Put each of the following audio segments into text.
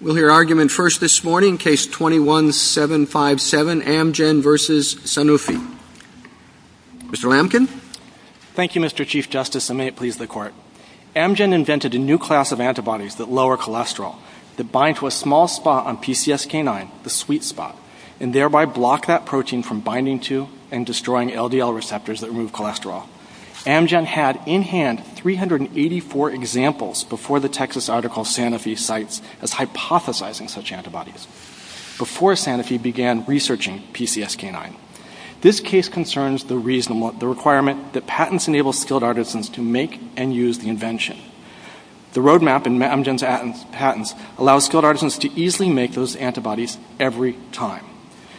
We'll hear argument first this morning, Case 21-757, Amgen v. Sanofi. Mr. Lamkin? Thank you, Mr. Chief Justice, and may it please the Court. Amgen invented a new class of antibodies that lower cholesterol, that bind to a small spot on PCSK9, the sweet spot, and thereby block that protein from binding to and destroying LDL receptors that remove cholesterol. Amgen had in hand 384 examples before the Texas article Sanofi cites as hypothesizing such antibodies, before Sanofi began researching PCSK9. This case concerns the requirement that patents enable skilled artisans to make and use the invention. The roadmap in Amgen's patents allows skilled artisans to easily make those antibodies every time,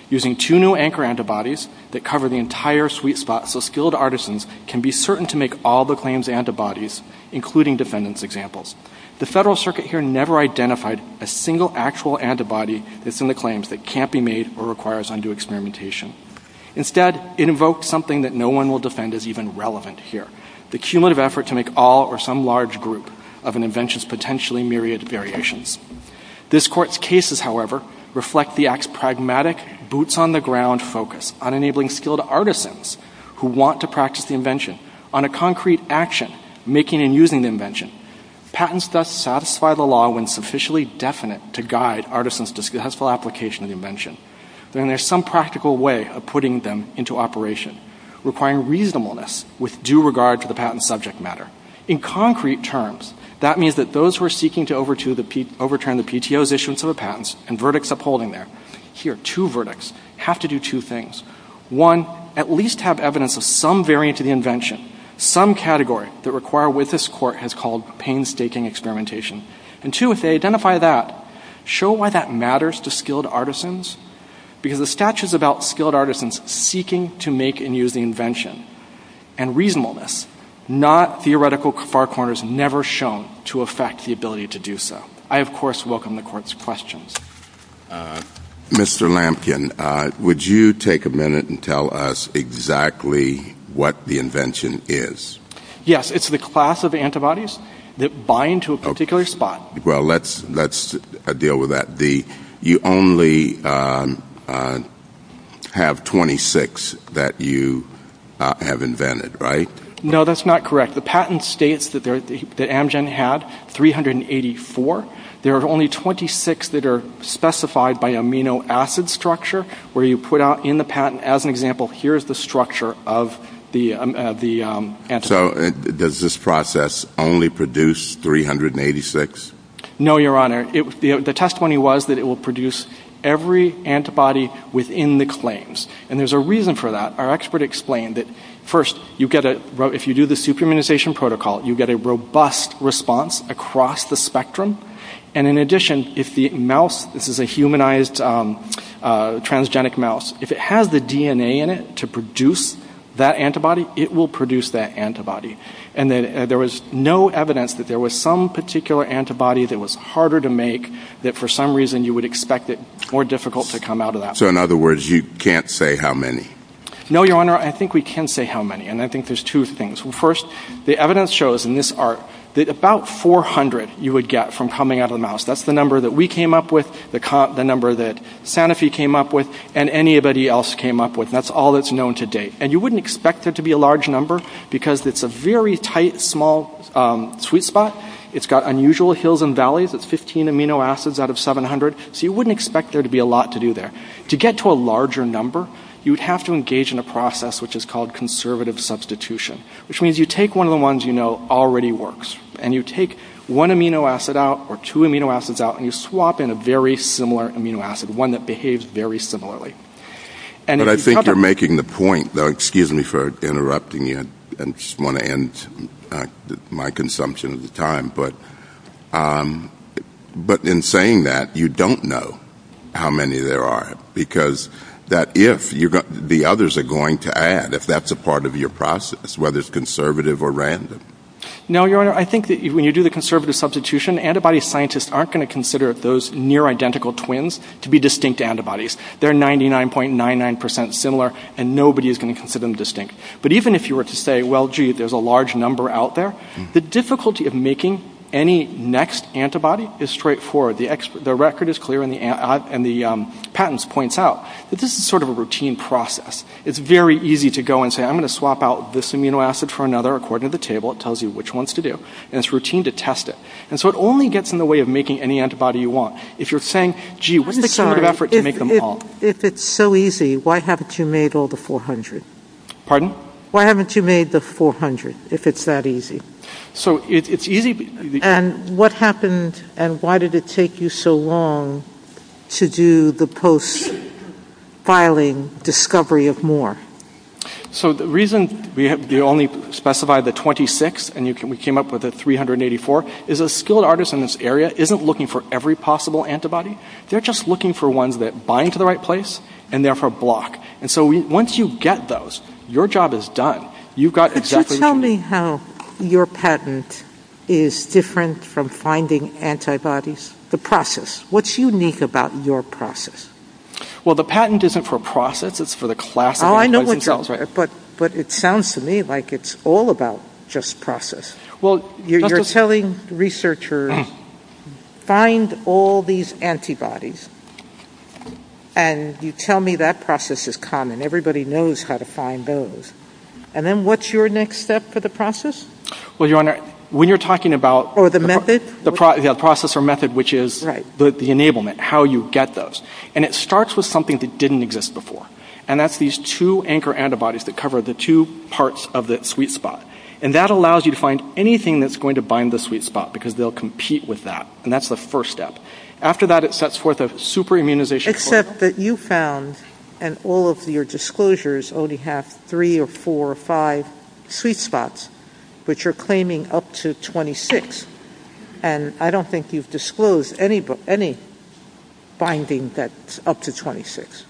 using two new anchor antibodies that cover the entire sweet spot so skilled artisans can be certain to make all the claimed antibodies, including defendant's examples. The Federal Circuit here never identified a single actual antibody that's in the claims that can't be made or requires undue experimentation. Instead, it invoked something that no one will defend as even relevant here, the cumulative effort to make all or some large group of an invention's potentially myriad variations. This Court's cases, however, reflect the Act's pragmatic, boots-on-the-ground focus on enabling skilled artisans who want to practice the invention on a concrete action, making and using the invention. Patents thus satisfy the law when sufficiently definite to guide artisans' successful application of the invention. Then there's some practical way of putting them into operation, requiring reasonableness with due regard to the patent subject matter. In concrete terms, that means that those who are seeking to overturn the PTO's issuance of the patents and verdicts upholding them, here are two verdicts, have to do two things. One, at least have evidence of some variant of the invention, some category that require what this Court has called painstaking experimentation. And two, if they identify that, show why that matters to skilled artisans, because the statute is about skilled artisans seeking to make and use the invention. And reasonableness, not theoretical far corners never shown to affect the ability to do so. I, of course, welcome the Court's questions. Mr. Lampkin, would you take a minute and tell us exactly what the invention is? Yes, it's the class of antibodies that bind to a particular spot. Well, let's deal with that. You only have 26 that you have invented, right? No, that's not correct. The patent states that Amgen had 384. There are only 26 that are specified by amino acid structure, where you put out in the patent, as an example, here's the structure of the antibody. So does this process only produce 386? No, Your Honor. The testimony was that it will produce every antibody within the claims. And there's a reason for that. Our expert explained it. First, if you do the super-immunization protocol, you get a robust response across the spectrum. And in addition, if the mouse, this is a humanized transgenic mouse, if it has the DNA in it to produce that antibody, it will produce that antibody. And there was no evidence that there was some particular antibody that was harder to make, that for some reason you would expect it more difficult to come out of that. So, in other words, you can't say how many? No, Your Honor, I think we can say how many. And I think there's two things. First, the evidence shows in this art that about 400 you would get from coming out of the mouse. That's the number that we came up with, the number that Sanofi came up with, and anybody else came up with. And that's all that's known to date. And you wouldn't expect it to be a large number because it's a very tight, small, sweet spot. It's got unusual hills and valleys. It's 15 amino acids out of 700. So you wouldn't expect there to be a lot to do there. To get to a larger number, you'd have to engage in a process which is called conservative substitution, which means you take one of the ones you know already works, and you take one amino acid out or two amino acids out, and you swap in a very similar amino acid, one that behaves very similarly. But I think you're making the point, though, excuse me for interrupting you. I just want to end my consumption of the time. But in saying that, you don't know how many there are because the others are going to add, if that's a part of your process, whether it's conservative or random. No, Your Honor, I think that when you do the conservative substitution, antibody scientists aren't going to consider those near-identical twins to be distinct antibodies. They're 99.99% similar, and nobody is going to consider them distinct. But even if you were to say, well, gee, there's a large number out there, the difficulty of making any next antibody is straightforward. The record is clear, and the patents point out that this is sort of a routine process. It's very easy to go and say, I'm going to swap out this amino acid for another according to the table. It tells you which ones to do, and it's routine to test it. And so it only gets in the way of making any antibody you want. If you're saying, gee, what's the sort of effort to make them all? If it's so easy, why haven't you made all the 400? Pardon? Why haven't you made the 400, if it's that easy? So it's easy. And what happened, and why did it take you so long to do the post-filing discovery of more? So the reason we only specified the 26, and we came up with the 384, is a skilled artist in this area isn't looking for every possible antibody. They're just looking for ones that bind to the right place and therefore block. And so once you get those, your job is done. Could you tell me how your patent is different from finding antibodies? The process. What's unique about your process? Well, the patent isn't for process. It's for the class of antibodies. But it sounds to me like it's all about just process. Well, you're telling researchers, find all these antibodies, and you tell me that process is common. Everybody knows how to find those. And then what's your next step for the process? Well, Your Honor, when you're talking about the process or method, which is the enablement, how you get those, and it starts with something that didn't exist before, and that's these two anchor antibodies that cover the two parts of the sweet spot. And that allows you to find anything that's going to bind the sweet spot because they'll compete with that, and that's the first step. After that, it sets forth a super-immunization program. Except that you found in all of your disclosures only have three or four or five sweet spots, which you're claiming up to 26. And I don't think you've disclosed any binding that's up to 26.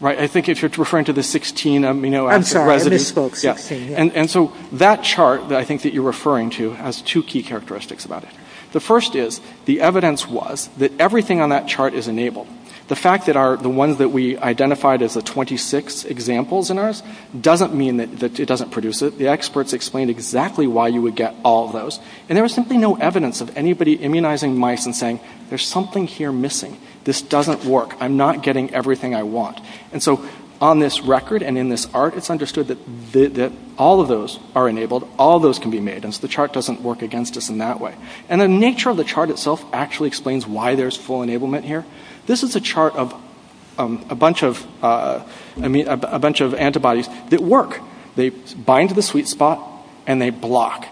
Right. I think if you're referring to the 16 amino acid residues. I'm sorry. I misspoke. And so that chart that I think that you're referring to has two key characteristics about it. The first is the evidence was that everything on that chart is enabled. The fact that the ones that we identified as the 26 examples in ours doesn't mean that it doesn't produce it. The experts explained exactly why you would get all of those, and there was simply no evidence of anybody immunizing mice and saying, there's something here missing. This doesn't work. I'm not getting everything I want. And so on this record and in this ARC, it's understood that all of those are enabled, all those can be made, and so the chart doesn't work against us in that way. And the nature of the chart itself actually explains why there's full enablement here. This is a chart of a bunch of antibodies that work. They bind to the sweet spot and they block.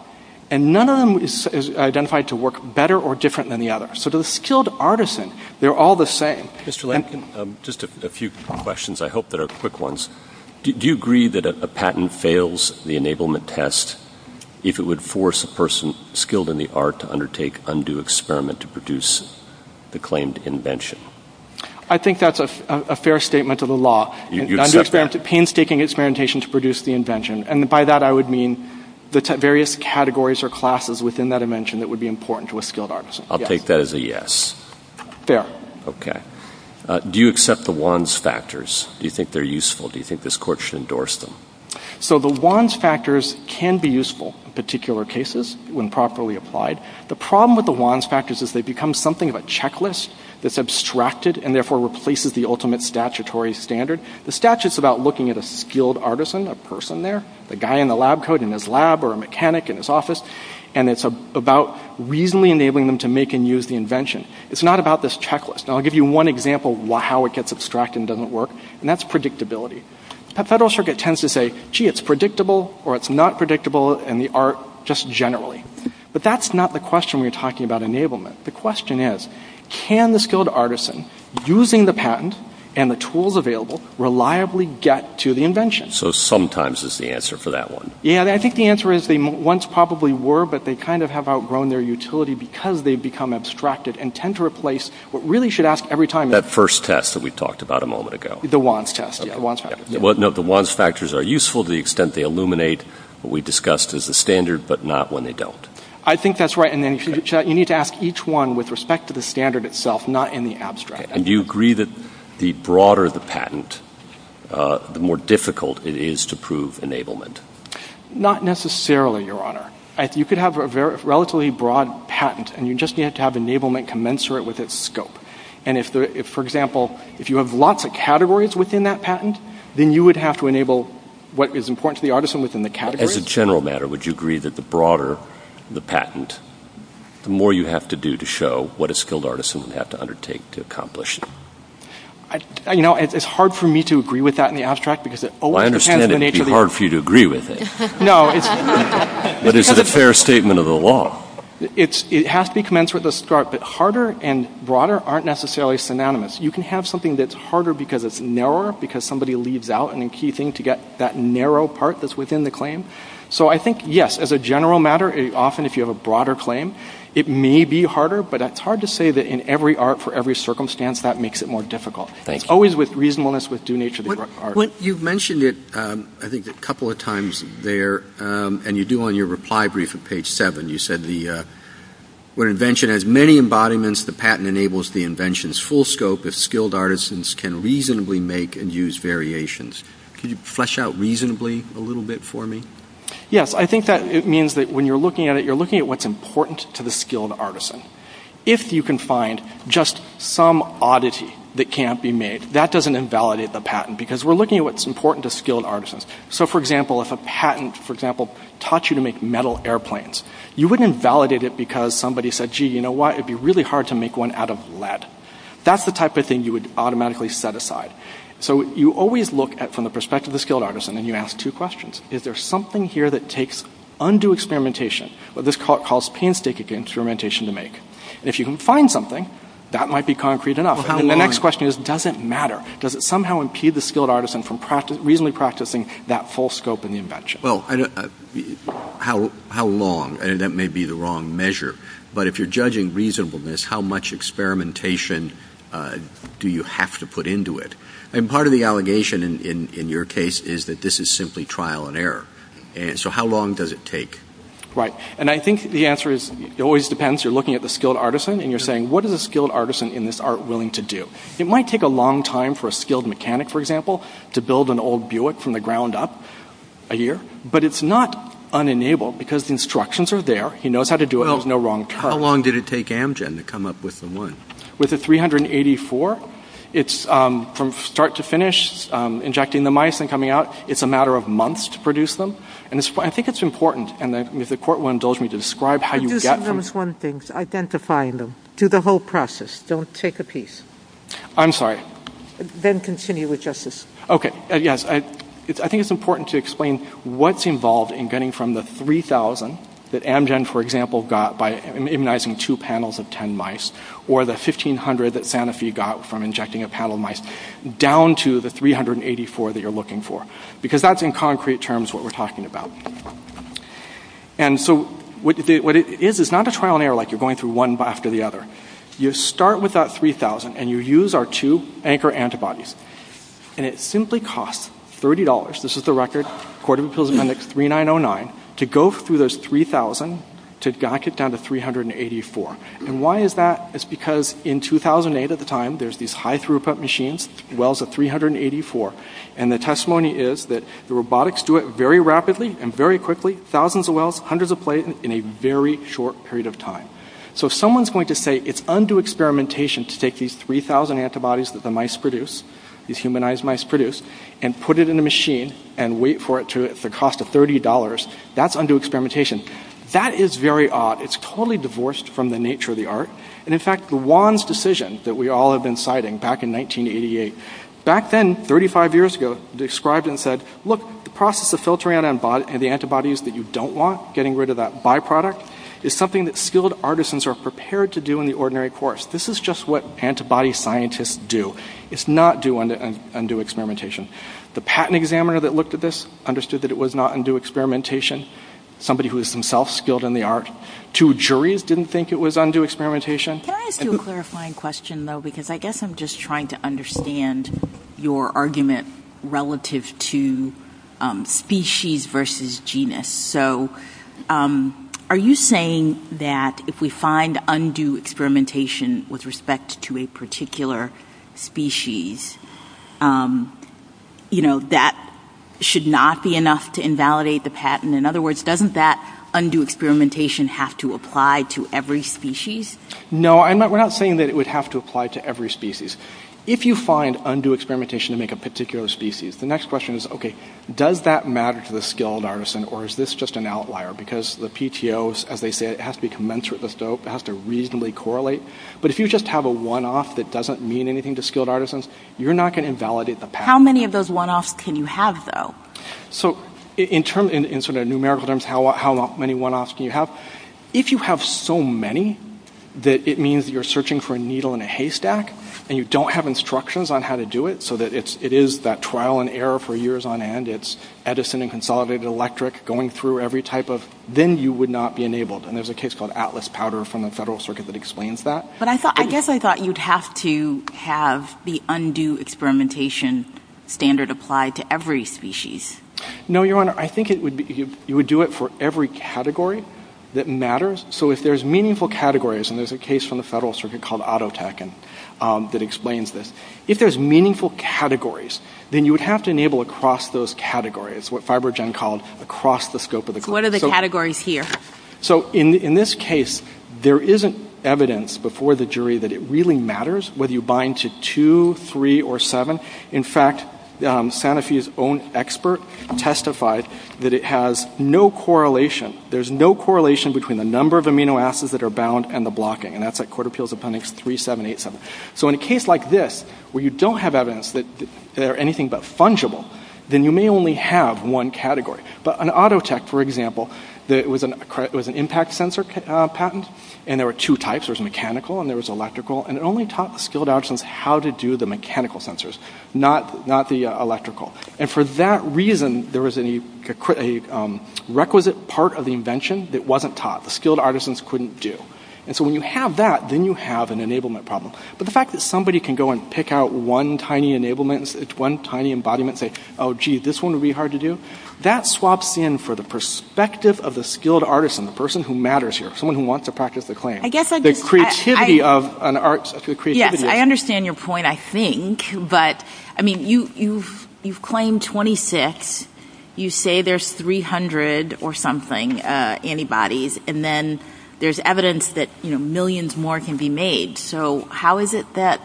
And none of them is identified to work better or different than the others. So to the skilled artisan, they're all the same. Just a few questions. I hope they're quick ones. Do you agree that a patent fails the enablement test if it would force a person who is skilled in the art to undertake undue experiment to produce the claimed invention? I think that's a fair statement of the law, painstaking experimentation to produce the invention. And by that I would mean the various categories or classes within that invention that would be important to a skilled artisan. I'll take that as a yes. Fair. Okay. Do you accept the WANS factors? Do you think they're useful? Do you think this court should endorse them? So the WANS factors can be useful in particular cases when properly applied. The problem with the WANS factors is they become something of a checklist that's abstracted and therefore replaces the ultimate statutory standard. The statute is about looking at a skilled artisan, a person there, the guy in the lab coat in his lab or a mechanic in his office, and it's about reasonably enabling them to make and use the invention. It's not about this checklist. And I'll give you one example of how it gets abstracted and doesn't work, and that's predictability. The Federal Circuit tends to say, gee, it's predictable or it's not predictable in the art just generally. But that's not the question we're talking about enablement. The question is, can the skilled artisan, using the patent and the tools available, reliably get to the invention? So sometimes is the answer for that one. Yeah, and I think the answer is they once probably were, but they kind of have outgrown their utility because they've become abstracted and tend to replace what really should ask every time. That first test that we talked about a moment ago. The WANS test. The WANS factors are useful to the extent they illuminate what we discussed as a standard, but not when they don't. I think that's right. And you need to ask each one with respect to the standard itself, not in the abstract. And do you agree that the broader the patent, the more difficult it is to prove enablement? Not necessarily, Your Honor. You could have a relatively broad patent, and you just need to have enablement commensurate with its scope. For example, if you have lots of categories within that patent, then you would have to enable what is important to the artisan within the category. As a general matter, would you agree that the broader the patent, the more you have to do to show what a skilled artisan would have to undertake to accomplish? You know, it's hard for me to agree with that in the abstract. I understand it would be hard for you to agree with it. No. But is it a fair statement of the law? It has to be commensurate with the scope, but harder and broader aren't necessarily synonymous. You can have something that's harder because it's narrower, because somebody leaves out a key thing to get that narrow part that's within the claim. So I think, yes, as a general matter, often if you have a broader claim, it may be harder, but it's hard to say that in every art for every circumstance that makes it more difficult. It's always with reasonableness, with due nature to the art. You've mentioned it, I think, a couple of times there, and you do on your reply brief on page 7, you said, when an invention has many embodiments, the patent enables the invention's full scope if skilled artisans can reasonably make and use variations. Can you flesh out reasonably a little bit for me? Yes. I think that it means that when you're looking at it, you're looking at what's important to the skilled artisan. If you can find just some oddity that can't be made, that doesn't invalidate the patent, because we're looking at what's important to skilled artisans. So, for example, if a patent, for example, taught you to make metal airplanes, you wouldn't invalidate it because somebody said, gee, you know what, it'd be really hard to make one out of lead. That's the type of thing you would automatically set aside. So you always look from the perspective of the skilled artisan, and you ask two questions. Is there something here that takes undue experimentation, what this calls painstaking experimentation to make? If you can find something, that might be concrete enough. And the next question is, does it matter? Does it somehow impede the skilled artisan from reasonably practicing that full scope in the invention? Well, how long? And that may be the wrong measure. But if you're judging reasonableness, how much experimentation do you have to put into it? And part of the allegation in your case is that this is simply trial and error. So how long does it take? Right. And I think the answer is, it always depends. You're looking at the skilled artisan, and you're saying, what is a skilled artisan in this art willing to do? It might take a long time for a skilled mechanic, for example, to build an old Buick from the ground up, a year. But it's not unenabled, because the instructions are there. He knows how to do it. There's no wrong cut. How long did it take Amgen to come up with the one? With the 384, it's from start to finish, injecting the mice and coming out. It's a matter of months to produce them. And I think it's important. And if the court will indulge me to describe how you get them. I promise one thing. Identify them. Do the whole process. Don't take a piece. I'm sorry. Then continue with justice. Okay. Yes. I think it's important to explain what's involved in getting from the 3,000 that Amgen, for example, got by immunizing two panels of 10 mice, or the 1,500 that Sanofi got from injecting a panel of mice, down to the 384 that you're looking for. Because that's, in concrete terms, what we're talking about. And so what it is, it's not a trial and error, like you're going through one after the other. You start with that 3,000, and you use our two anchor antibodies. And it simply costs $30, this is the record, according to the clinic, 3909, to go through those 3,000 to get down to 384. And why is that? It's because in 2008 at the time, there's these high throughput machines, wells of 384. And the testimony is that the robotics do it very rapidly and very quickly, thousands of wells, hundreds of plates, in a very short period of time. So someone's going to say it's undue experimentation to take these 3,000 antibodies that the mice produce, these humanized mice produce, and put it in a machine and wait for it to, at the cost of $30, that's undue experimentation. That is very odd. It's totally divorced from the nature of the art. And, in fact, Juan's decision that we all have been citing back in 1988, back then, 35 years ago, described and said, look, the process of filtering out the antibodies that you don't want, getting rid of that byproduct, is something that skilled artisans are prepared to do in the ordinary course. This is just what antibody scientists do. It's not undue experimentation. The patent examiner that looked at this understood that it was not undue experimentation, somebody who is themselves skilled in the art. Two juries didn't think it was undue experimentation. Can I ask you a clarifying question, though, because I guess I'm just trying to understand your argument relative to species versus genus. So are you saying that if we find undue experimentation with respect to a particular species, you know, that should not be enough to invalidate the patent? In other words, doesn't that undue experimentation have to apply to every species? No, we're not saying that it would have to apply to every species. If you find undue experimentation to make a particular species, the next question is, okay, does that matter to the skilled artisan, or is this just an outlier? Because the PTOs, as they say, it has to be commensurate, it has to reasonably correlate. But if you just have a one-off that doesn't mean anything to skilled artisans, you're not going to invalidate the patent. How many of those one-offs can you have, though? So in sort of numerical terms, how many one-offs can you have? If you have so many that it means you're searching for a needle in a haystack and you don't have instructions on how to do it so that it is that trial and error for years on end, it's Edison and Consolidated Electric going through every type of, then you would not be enabled. And there's a case called Atlas Powder from the Federal Circuit that explains that. But I guess I thought you'd have to have the undue experimentation standard applied to every species. No, Your Honor. I think you would do it for every category that matters. So if there's meaningful categories, and there's a case from the Federal Circuit called Autotekin that explains this, if there's meaningful categories, then you would have to enable across those categories, what Fibrogen called across the scope of the group. What are the categories here? So in this case, there isn't evidence before the jury that it really matters whether you bind to two, three, or seven. In fact, Sanofi's own expert testified that it has no correlation. There's no correlation between the number of amino acids that are bound and the blocking. And that's at Court Appeals Appendix 3787. So in a case like this, where you don't have evidence that they're anything but fungible, then you may only have one category. But in Autotek, for example, there was an impact sensor patent, and there were two types. There was mechanical and there was electrical. And it only taught the skilled artisans how to do the mechanical sensors, not the electrical. And for that reason, there was a requisite part of the invention that wasn't taught. The skilled artisans couldn't do. And so when you have that, then you have an enablement problem. But the fact that somebody can go and pick out one tiny enablement, one tiny embodiment, and say, oh, gee, this one would be hard to do, that swaps in for the perspective of the skilled artisan, the person who matters here, someone who wants to practice the claim. The creativity of an artist. Yes, I understand your point, I think. But, I mean, you've claimed 26. You say there's 300 or something antibodies, and then there's evidence that millions more can be made. So how is it that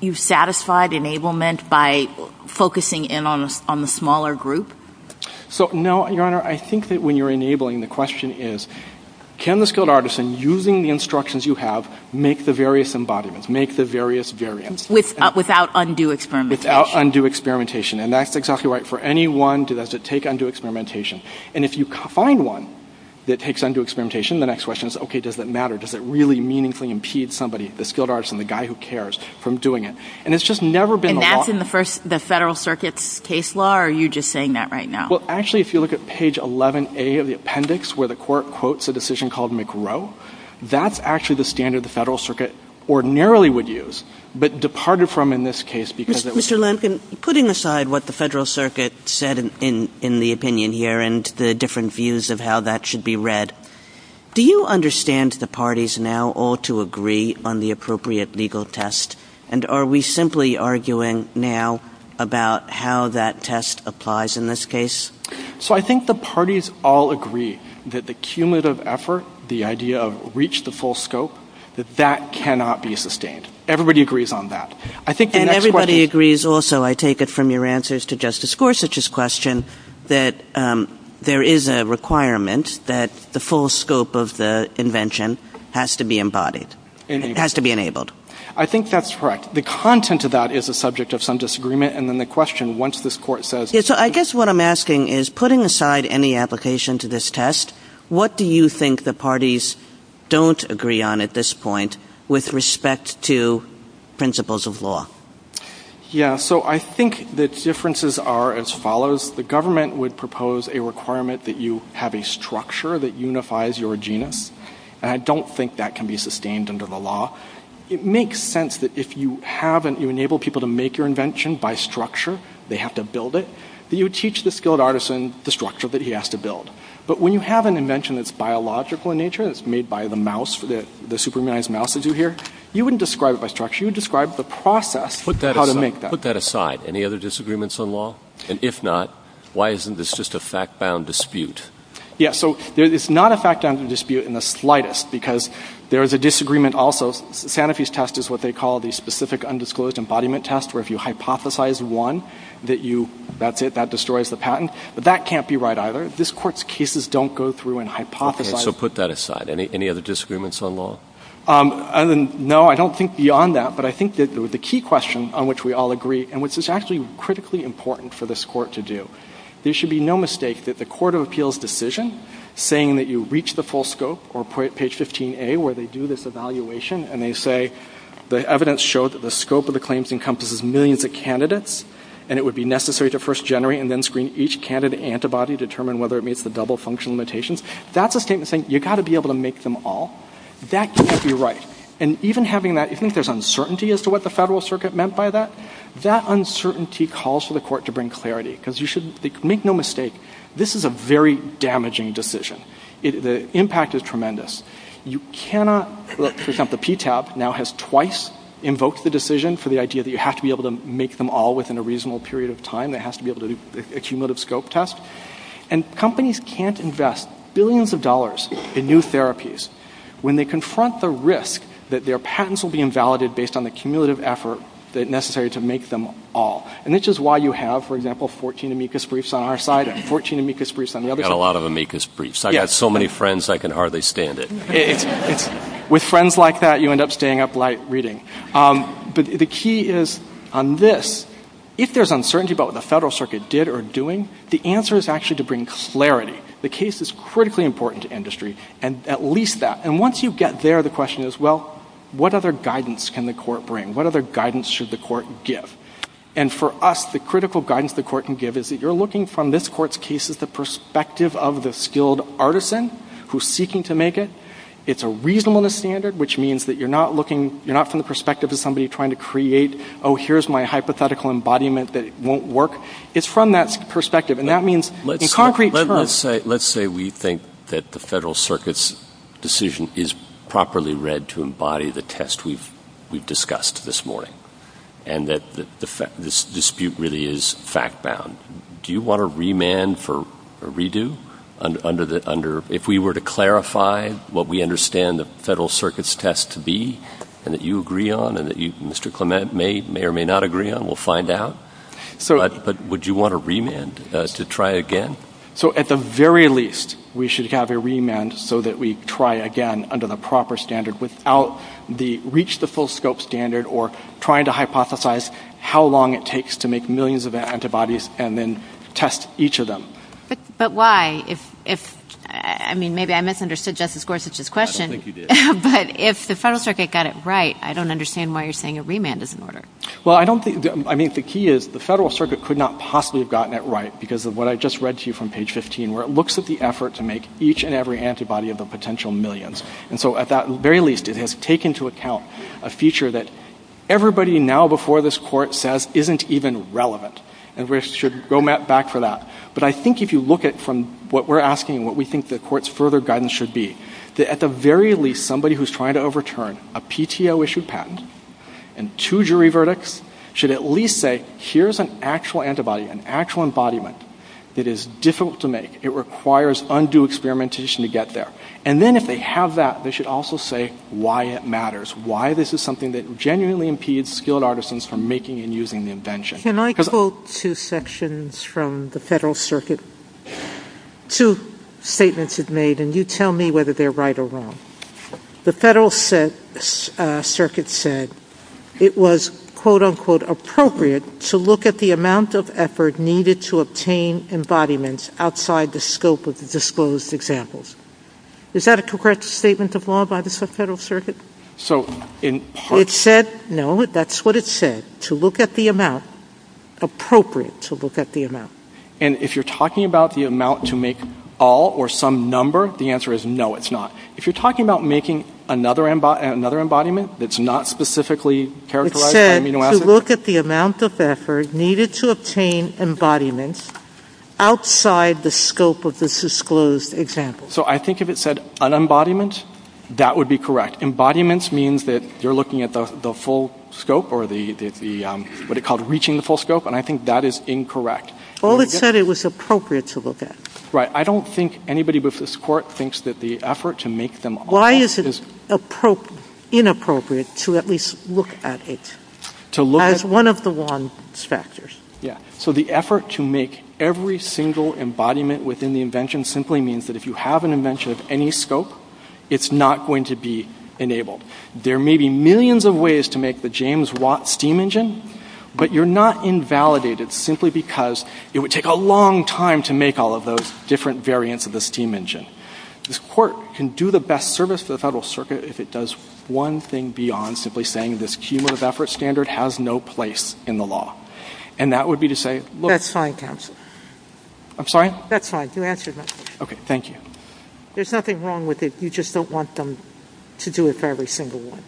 you've satisfied enablement by focusing in on the smaller group? So, no, Your Honor, I think that when you're enabling, the question is, can the skilled artisan, using the instructions you have, make the various embodiments, make the various variants? Without undue experimentation. Without undue experimentation. And that's exactly right. For any one, does it take undue experimentation? And if you find one that takes undue experimentation, the next question is, okay, does it matter? Does it really meaningfully impede somebody, the skilled artisan, the guy who cares, from doing it? And it's just never been the law. And that's in the Federal Circuit's case law, or are you just saying that right now? Well, actually, if you look at page 11A of the appendix, where the court quotes a decision called McGrow, that's actually the standard the Federal Circuit ordinarily would use, but departed from in this case because it was. Mr. Lemkin, putting aside what the Federal Circuit said in the opinion here, and the different views of how that should be read, do you understand the parties now all to agree on the appropriate legal test? And are we simply arguing now about how that test applies in this case? So I think the parties all agree that the cumulative effort, the idea of reach the full scope, that that cannot be sustained. Everybody agrees on that. And everybody agrees also, I take it from your answers to Justice Gorsuch's question, that there is a requirement that the full scope of the invention has to be embodied, has to be enabled. I think that's correct. The content of that is the subject of some disagreement, and then the question, once this court says... Yes, so I guess what I'm asking is, putting aside any application to this test, what do you think the parties don't agree on at this point with respect to principles of law? Yes, so I think the differences are as follows. The government would propose a requirement that you have a structure that unifies your genus, and I don't think that can be sustained under the law. It makes sense that if you enable people to make your invention by structure, they have to build it, that you teach the skilled artisan the structure that he has to build. But when you have an invention that's biological in nature, that's made by the mouse, the superhumanized mouse as you hear, you wouldn't describe it by structure, you would describe the process of how to make that. Put that aside. Any other disagreements on law? And if not, why isn't this just a fact-bound dispute? Yes, so it's not a fact-bound dispute in the slightest, because there is a disagreement also. Sanofi's test is what they call the specific undisclosed embodiment test, where if you hypothesize one that you – that's it, that destroys the patent. But that can't be right either. This Court's cases don't go through and hypothesize. Okay, so put that aside. Any other disagreements on law? No, I don't think beyond that. But I think that the key question on which we all agree, and which is actually critically important for this Court to do, there should be no mistake that the court of appeals decision saying that you reach the full scope or page 15A where they do this evaluation and they say, the evidence shows that the scope of the claims encompasses millions of candidates and it would be necessary to first generate and then screen each candidate antibody to determine whether it meets the double function limitations. That's a statement saying you've got to be able to make them all. That can't be right. And even having that, I think there's uncertainty as to what the Federal Circuit meant by that. That uncertainty calls for the Court to bring clarity, because you should make no mistake, this is a very damaging decision. The impact is tremendous. The PTAB now has twice invoked the decision for the idea that you have to be able to make them all within a reasonable period of time. It has to be able to do a cumulative scope test. And companies can't invest billions of dollars in new therapies when they confront the risk that their patents will be invalidated based on the cumulative effort necessary to make them all. And this is why you have, for example, 14 amicus briefs on our side and 14 amicus briefs on the other side. I've got a lot of amicus briefs. I've got so many friends I can hardly stand it. With friends like that, you end up staying up late reading. But the key is on this, if there's uncertainty about what the Federal Circuit did or doing, the answer is actually to bring clarity. The case is critically important to industry, and at least that. And once you get there, the question is, well, what other guidance can the Court bring? What other guidance should the Court give? And for us, the critical guidance the Court can give is that you're looking from this Court's case as the perspective of the skilled artisan who's seeking to make it. It's a reasonableness standard, which means that you're not from the perspective of somebody trying to create, oh, here's my hypothetical embodiment that won't work. It's from that perspective, and that means in concrete terms. Let's say we think that the Federal Circuit's decision is properly read to embody the test we've discussed this morning and that this dispute really is fact-bound. Do you want to remand for a redo? If we were to clarify what we understand the Federal Circuit's test to be and that you agree on and that Mr. Clement may or may not agree on, we'll find out. But would you want a remand to try again? So at the very least, we should have a remand so that we try again under the proper standard without the reach-the-full-scope standard or trying to hypothesize how long it takes to make millions of antibodies and then test each of them. But why? I mean, maybe I misunderstood Justice Gorsuch's question. But if the Federal Circuit got it right, I don't understand why you're saying a remand is in order. Well, I don't think-I mean, the key is the Federal Circuit could not possibly have gotten it right because of what I just read to you from page 15, where it looks at the effort to make each and every antibody of the potential millions. And so at the very least, it has taken into account a feature that everybody now before this court says isn't even relevant. And we should go back for that. But I think if you look at from what we're asking, what we think the court's further guidance should be, that at the very least, somebody who's trying to overturn a PTO-issued patent and two jury verdicts should at least say, here's an actual antibody, an actual embodiment that is difficult to make. It requires undue experimentation to get there. And then if they have that, they should also say why it matters, why this is something that genuinely impedes skilled artisans from making and using the invention. Can I quote two sections from the Federal Circuit? Two statements it made, and you tell me whether they're right or wrong. The Federal Circuit said it was, quote-unquote, to look at the amount of effort needed to obtain embodiments outside the scope of the disclosed examples. Is that a correct statement of law by the Federal Circuit? It said, no, that's what it said, to look at the amount, appropriate to look at the amount. And if you're talking about the amount to make all or some number, the answer is no, it's not. If you're talking about making another embodiment that's not specifically characterized by amino acids- It said to look at the amount of effort needed to obtain embodiments outside the scope of the disclosed examples. So I think if it said unembodiment, that would be correct. Embodiment means that you're looking at the full scope or what it's called, reaching the full scope, and I think that is incorrect. All it said, it was appropriate to look at. Right. I don't think anybody before this Court thinks that the effort to make them all- Why is it inappropriate to at least look at it as one of the wrong factors? So the effort to make every single embodiment within the invention simply means that if you have an invention of any scope, it's not going to be enabled. There may be millions of ways to make the James Watt steam engine, but you're not invalidated simply because it would take a long time to make all of those different variants of the steam engine. This Court can do the best service to the Federal Circuit if it does one thing beyond simply saying this cumulative effort standard has no place in the law. And that would be to say- That's fine, counsel. I'm sorry? That's fine. You answered my question. Okay. Thank you. There's nothing wrong with it. You just don't want them to do it for every single one.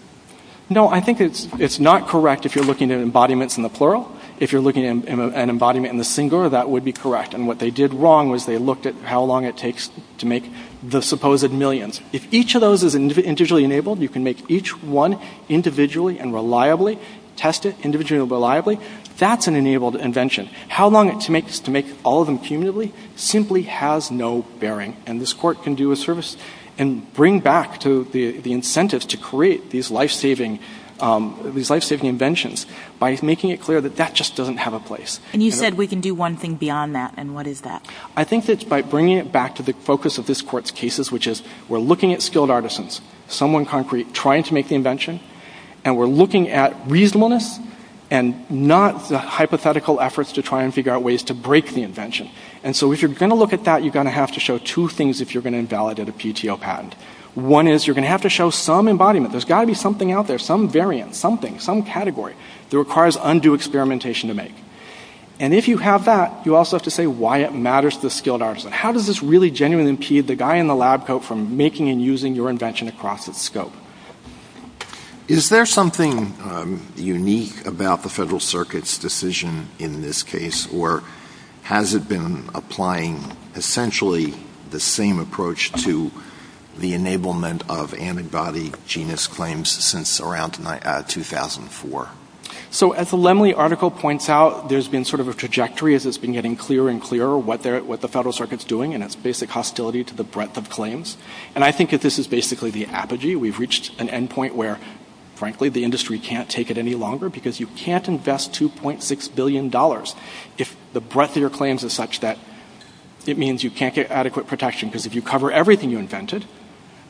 No, I think it's not correct if you're looking at embodiments in the plural. If you're looking at an embodiment in the singular, that would be correct. And what they did wrong was they looked at how long it takes to make the supposed millions. If each of those is individually enabled, you can make each one individually and reliably, test it individually and reliably. That's an enabled invention. How long it takes to make all of them cumulatively simply has no bearing. And this Court can do a service and bring back to the incentives to create these life-saving inventions by making it clear that that just doesn't have a place. And you said we can do one thing beyond that, and what is that? I think it's by bringing it back to the focus of this Court's cases, which is we're looking at skilled artisans, someone trying to make the invention, and we're looking at reasonableness and not the hypothetical efforts to try and figure out ways to break the invention. And so if you're going to look at that, you're going to have to show two things if you're going to invalidate a PTO patent. One is you're going to have to show some embodiment. There's got to be something out there, some variant, something, some category that requires undue experimentation to make. And if you have that, you also have to say why it matters to the skilled artisan. How does this really genuinely impede the guy in the lab coat from making and using your invention across its scope? Is there something unique about the Federal Circuit's decision in this case, or has it been applying essentially the same approach to the enablement of antibody genus claims since around 2004? So as the Lemley article points out, there's been sort of a trajectory as it's been getting clearer and clearer what the Federal Circuit's doing, and it's basically hostility to the breadth of claims. And I think that this is basically the apogee. We've reached an endpoint where, frankly, the industry can't take it any longer because you can't invest $2.6 billion if the breadth of your claims is such that it means you can't get adequate protection, because if you cover everything you invented,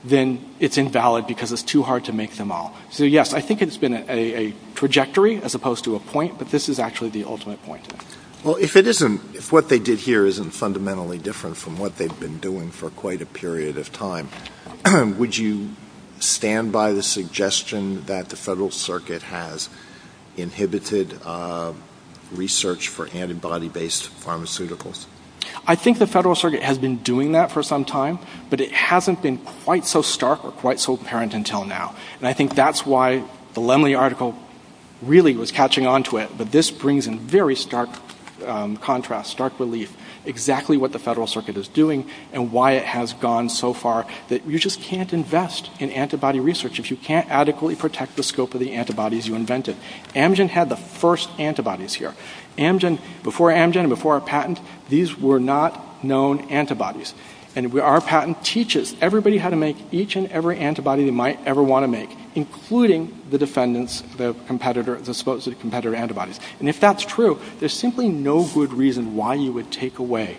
then it's invalid because it's too hard to make them all. So, yes, I think it's been a trajectory as opposed to a point, but this is actually the ultimate point. Well, if what they did here isn't fundamentally different from what they've been doing for quite a period of time, would you stand by the suggestion that the Federal Circuit has inhibited research for antibody-based pharmaceuticals? I think the Federal Circuit has been doing that for some time, but it hasn't been quite so stark or quite so apparent until now. And I think that's why the Lemley article really was catching on to it, that this brings in very stark contrast, stark relief, exactly what the Federal Circuit is doing and why it has gone so far that you just can't invest in antibody research if you can't adequately protect the scope of the antibodies you invented. Amgen had the first antibodies here. Before Amgen and before our patent, these were not known antibodies. And our patent teaches everybody how to make each and every antibody they might ever want to make, including the defendant's supposed competitor antibodies. And if that's true, there's simply no good reason why you would take away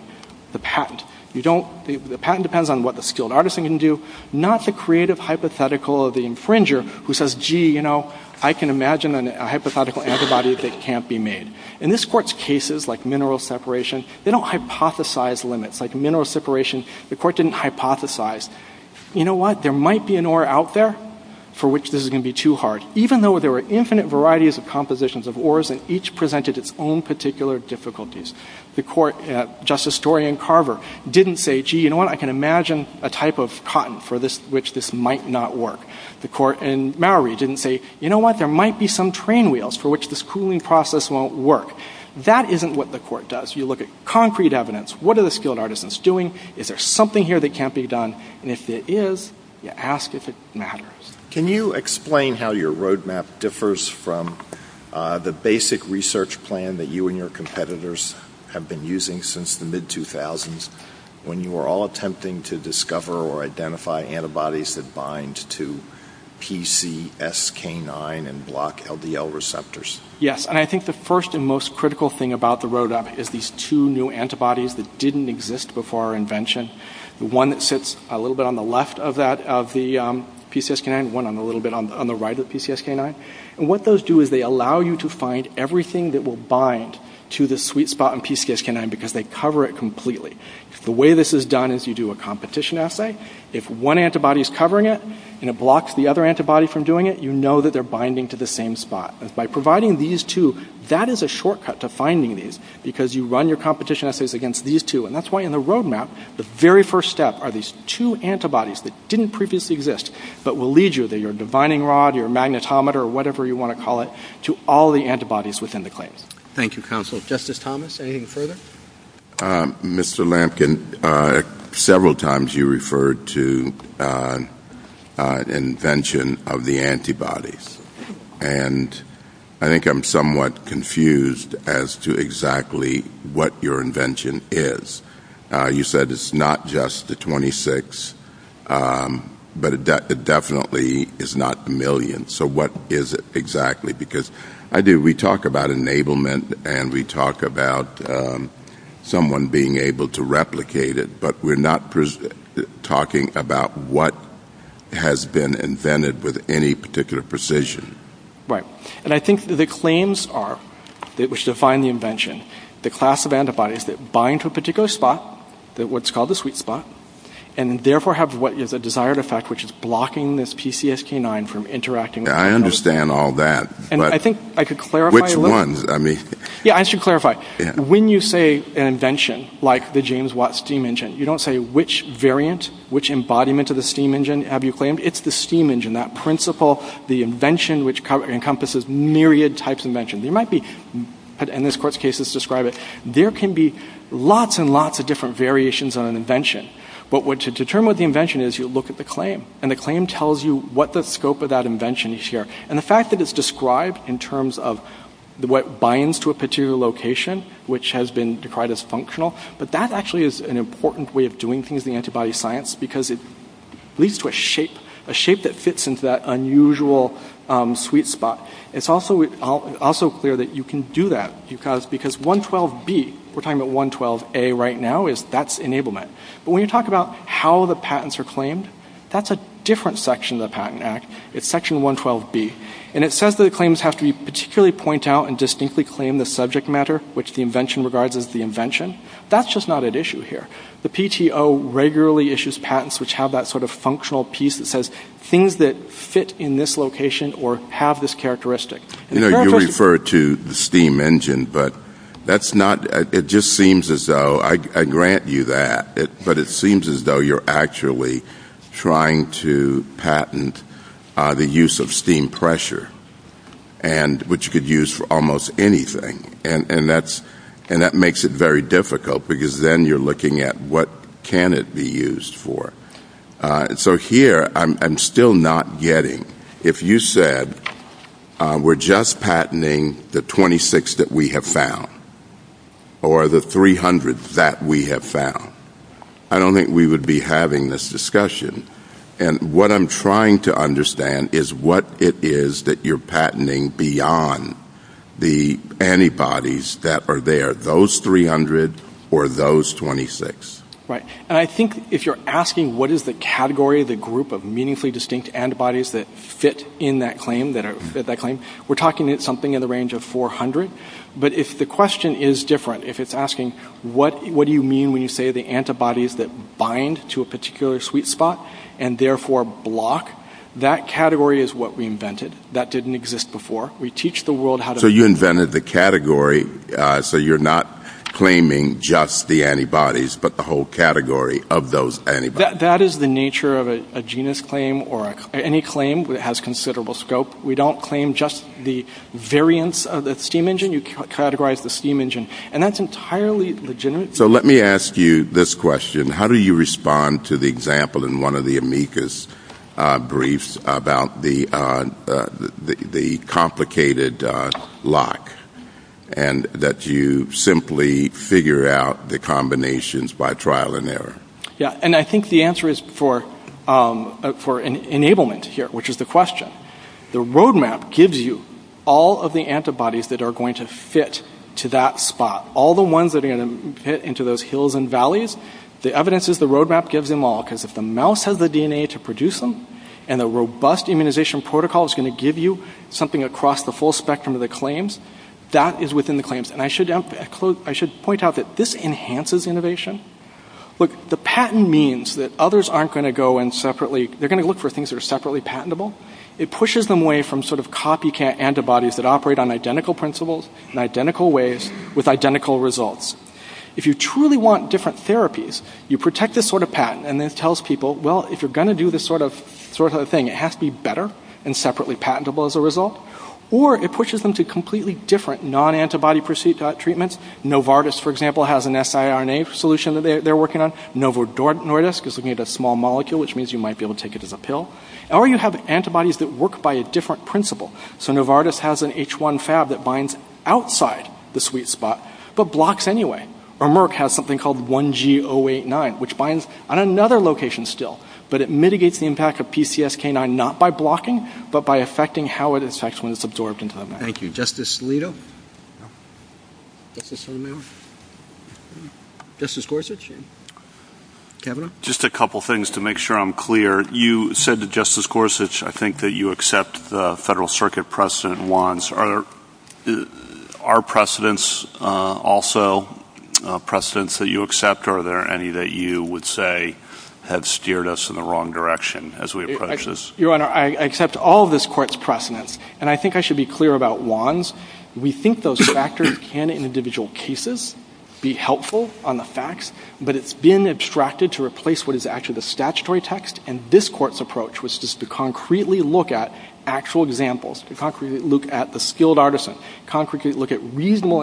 the patent. The patent depends on what the skilled artisan can do, not the creative hypothetical of the infringer who says, gee, you know, I can imagine a hypothetical antibody that can't be made. In this court's cases, like mineral separation, they don't hypothesize limits. Like mineral separation, the court didn't hypothesize. You know what? There might be an ore out there for which this is going to be too hard, even though there were infinite varieties of compositions of ores and each presented its own particular difficulties. The court, Justice Dorian Carver, didn't say, gee, you know what? I can imagine a type of cotton for which this might not work. The court in Maori didn't say, you know what? There might be some train wheels for which this cooling process won't work. That isn't what the court does. You look at concrete evidence. What are the skilled artisans doing? Is there something here that can't be done? And if there is, you ask if it matters. Can you explain how your roadmap differs from the basic research plan that you and your competitors have been using since the mid-2000s, when you were all attempting to discover or identify antibodies that bind to PCSK9 and block LDL receptors? Yes, and I think the first and most critical thing about the roadmap is these two new antibodies that didn't exist before our invention. One sits a little bit on the left of the PCSK9, one a little bit on the right of PCSK9. And what those do is they allow you to find everything that will bind to the sweet spot in PCSK9 because they cover it completely. The way this is done is you do a competition assay. If one antibody is covering it and it blocks the other antibody from doing it, you know that they're binding to the same spot. And by providing these two, that is a shortcut to finding these because you run your competition assays against these two. And that's why in the roadmap, the very first step are these two antibodies that didn't previously exist but will lead you to your dividing rod, your magnetometer, or whatever you want to call it, to all the antibodies within the claim. Thank you, counsel. Justice Thomas, anything further? Mr. Lampkin, several times you referred to invention of the antibodies. And I think I'm somewhat confused as to exactly what your invention is. You said it's not just the 26, but it definitely is not million. So what is it exactly? Because we talk about enablement and we talk about someone being able to replicate it, but we're not talking about what has been invented with any particular precision. Right. And I think the claims are, which define the invention, the class of antibodies that bind to a particular spot, what's called the sweet spot, and therefore have what is a desired effect, which is blocking this PCSK9 from interacting. I understand all that, but which ones? Yeah, I should clarify. When you say invention, like the James Watt steam engine, you don't say which variant, which embodiment of the steam engine have you claimed. It's the steam engine, that principle, the invention which encompasses myriad types of inventions. You might be, in this court's case, let's describe it. There can be lots and lots of different variations on an invention. But to determine what the invention is, you look at the claim. And the claim tells you what the scope of that invention is here. And the fact that it's described in terms of what binds to a particular location, which has been decried as functional, but that actually is an important way of doing things in antibody science because it leads to a shape that fits into that unusual sweet spot. It's also clear that you can do that because 112B, we're talking about 112A right now, that's enablement. But when you talk about how the patents are claimed, that's a different section of the Patent Act. It's section 112B. And it says that the claims have to particularly point out and distinctly claim the subject matter which the invention regards as the invention. That's just not at issue here. The PTO regularly issues patents which have that sort of functional piece that says things that fit in this location or have this characteristic. You know, you refer to the steam engine, but that's not, it just seems as though, I grant you that, but it seems as though you're actually trying to patent the use of steam pressure, which you could use for almost anything. And that makes it very difficult because then you're looking at what can it be used for. So here I'm still not getting. If you said we're just patenting the 26 that we have found or the 300 that we have found, I don't think we would be having this discussion. And what I'm trying to understand is what it is that you're patenting beyond the antibodies that are there, those 300 or those 26. Right. And I think if you're asking what is the category of the group of meaningfully distinct antibodies that fit in that claim, we're talking about something in the range of 400. But if the question is different, if it's asking what do you mean when you say the antibodies that bind to a particular sweet spot and therefore block, that category is what we invented. That didn't exist before. We teach the world how to. So you invented the category so you're not claiming just the antibodies, but the whole category of those antibodies. That is the nature of a genus claim or any claim that has considerable scope. We don't claim just the variance of the steam engine. You categorize the steam engine. And that's entirely legitimate. So let me ask you this question. How do you respond to the example in one of the amicus briefs about the complicated lock and that you simply figure out the combinations by trial and error? Yeah. And I think the answer is for enablement here, which is the question. The roadmap gives you all of the antibodies that are going to fit to that spot, all the ones that are going to fit into those hills and valleys. The evidence is the roadmap gives them all because if the mouse has the DNA to produce them and the robust immunization protocol is going to give you something across the full spectrum of the claims, that is within the claims. And I should point out that this enhances innovation. Look, the patent means that others aren't going to go in separately. They're going to look for things that are separately patentable. It pushes them away from sort of copycat antibodies that operate on identical principles in identical ways with identical results. If you truly want different therapies, you protect this sort of patent, and it tells people, well, if you're going to do this sort of thing, it has to be better and separately patentable as a result. Or it pushes them to completely different non-antibody treatments. Novartis, for example, has an siRNA solution that they're working on. NovoDortis is looking at a small molecule, which means you might be able to take it as a pill. Or you have antibodies that work by a different principle. So Novartis has an H1 fab that binds outside the sweet spot but blocks anyway. Or Merck has something called 1G089, which binds on another location still, but it mitigates the impact of PCSK9 not by blocking but by affecting how it affects when it's absorbed into the marrow. Thank you. Justice Alito? Justice Alito? Justice Gorsuch? Just a couple things to make sure I'm clear. You said that, Justice Gorsuch, I think that you accept the Federal Circuit precedent once. Are precedents also precedents that you accept, or are there any that you would say have steered us in the wrong direction as we approach this? Your Honor, I accept all of this Court's precedents. And I think I should be clear about Juan's. We think those factors can, in individual cases, be helpful on the facts, but it's being abstracted to replace what is actually the statutory text. And this Court's approach was just to concretely look at actual examples, to concretely look at the skilled artisan, concretely look at reasonable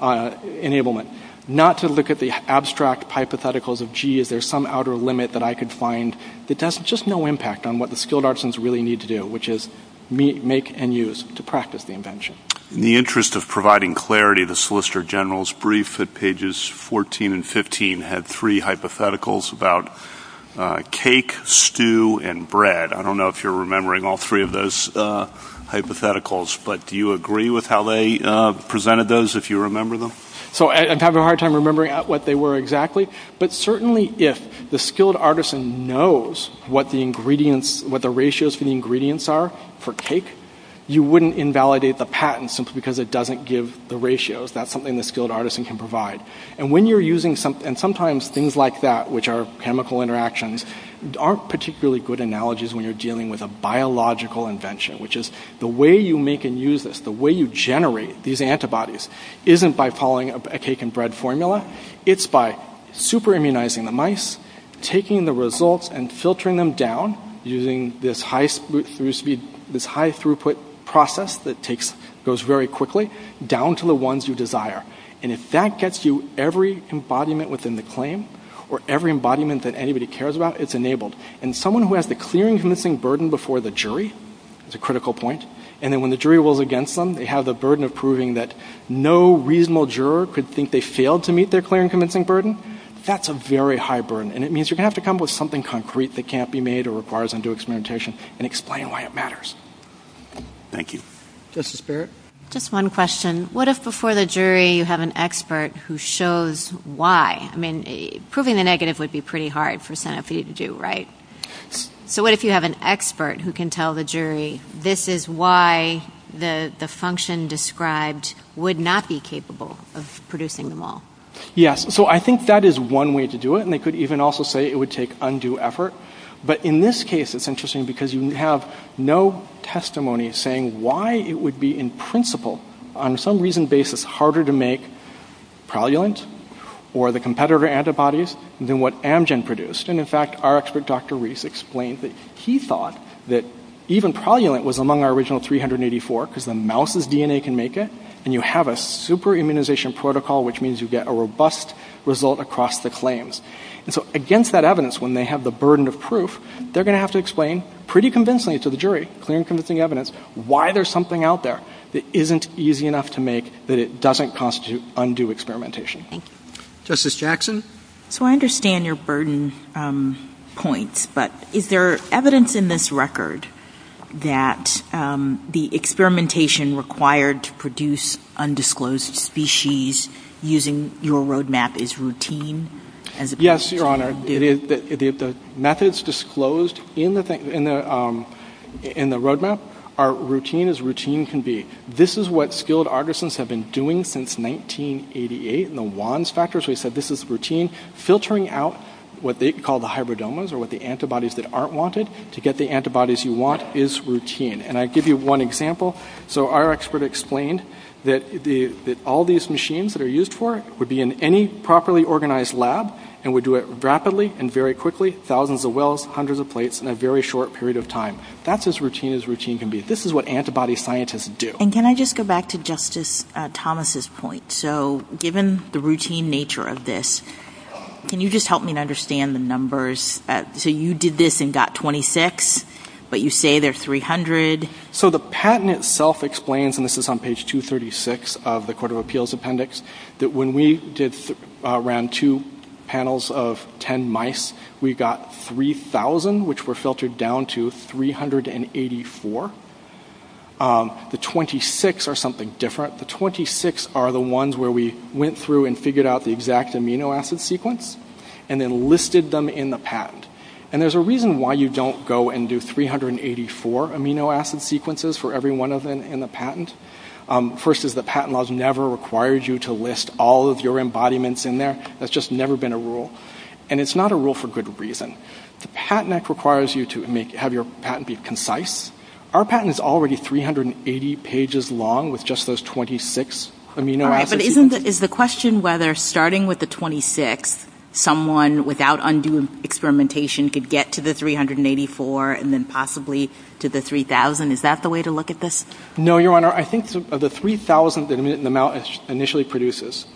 enablement, not to look at the abstract hypotheticals of, gee, is there some outer limit that I could find that has just no impact on what the skilled artisans really need to do, which is make and use to practice the invention. In the interest of providing clarity, the Solicitor General's brief at pages 14 and 15 had three hypotheticals about cake, stew, and bread. I don't know if you're remembering all three of those hypotheticals, but do you agree with how they presented those, if you remember them? I'm having a hard time remembering what they were exactly, but certainly if the skilled artisan knows what the ratios for the ingredients are for cake, you wouldn't invalidate the patent simply because it doesn't give the ratios. That's something the skilled artisan can provide. And sometimes things like that, which are chemical interactions, aren't particularly good analogies when you're dealing with a biological invention, which is the way you make and use this, the way you generate these antibodies, isn't by following a cake and bread formula. It's by super-immunizing the mice, taking the results and filtering them down using this high-throughput process that goes very quickly, down to the ones you desire. And if that gets you every embodiment within the claim or every embodiment that anybody cares about, it's enabled. And someone who has the clear and convincing burden before the jury is a critical point, and then when the jury rules against them, they have the burden of proving that no reasonable juror could think they failed to meet their clear and convincing burden, that's a very high burden. And it means you're going to have to come up with something concrete that can't be made or requires undue experimentation and explain why it matters. Thank you. Justice Barrett? Just one question. What if before the jury you have an expert who shows why? I mean, proving the negative would be pretty hard for Sanofi to do, right? So what if you have an expert who can tell the jury, this is why the function described would not be capable of producing them all? Yes, so I think that is one way to do it, and they could even also say it would take undue effort. But in this case it's interesting because you have no testimony saying why it would be, in principle, on some reason basis, harder to make Prolulent or the competitor antibodies than what Amgen produced. And, in fact, our expert, Dr. Reese, explained that he thought that even Prolulent was among our original 384 because the mouse's DNA can make it, and you have a super immunization protocol, which means you get a robust result across the claims. And so against that evidence, when they have the burden of proof, they're going to have to explain pretty convincingly to the jury, clear and convincing evidence, why there's something out there that isn't easy enough to make that it doesn't constitute undue experimentation. Thank you. Justice Jackson? So I understand your burden points, but is there evidence in this record that the experimentation required to produce undisclosed species using your roadmap is routine? Yes, Your Honor. The methods disclosed in the roadmap are routine as routine can be. This is what skilled artisans have been doing since 1988, and the WANS factors, we said this is routine. Filtering out what they call the hybridomas, or what the antibodies that aren't wanted, to get the antibodies you want is routine. And I give you one example. So our expert explained that all these machines that are used for it would be in any properly organized lab, and would do it rapidly and very quickly, thousands of wells, hundreds of plates in a very short period of time. That's as routine as routine can be. This is what antibody scientists do. And can I just go back to Justice Thomas' point? So given the routine nature of this, can you just help me understand the numbers? So you did this and got 26, but you say there's 300. So the patent itself explains, and this is on page 236 of the Court of Appeals Appendix, that when we did around two panels of 10 mice, we got 3,000, which were filtered down to 384. The 26 are something different. The 26 are the ones where we went through and figured out the exact amino acid sequence and then listed them in the patent. And there's a reason why you don't go and do 384 amino acid sequences for every one of them in the patent. First is the patent laws never required you to list all of your embodiments in there. That's just never been a rule. And it's not a rule for good reason. The patent act requires you to have your patent be concise. Our patent is already 380 pages long with just those 26 amino acid sequences. But isn't the question whether starting with the 26, someone without undue experimentation could get to the 384 and then possibly to the 3,000? Is that the way to look at this? No, Your Honor. I think the 3,000 that the mouse initially produces,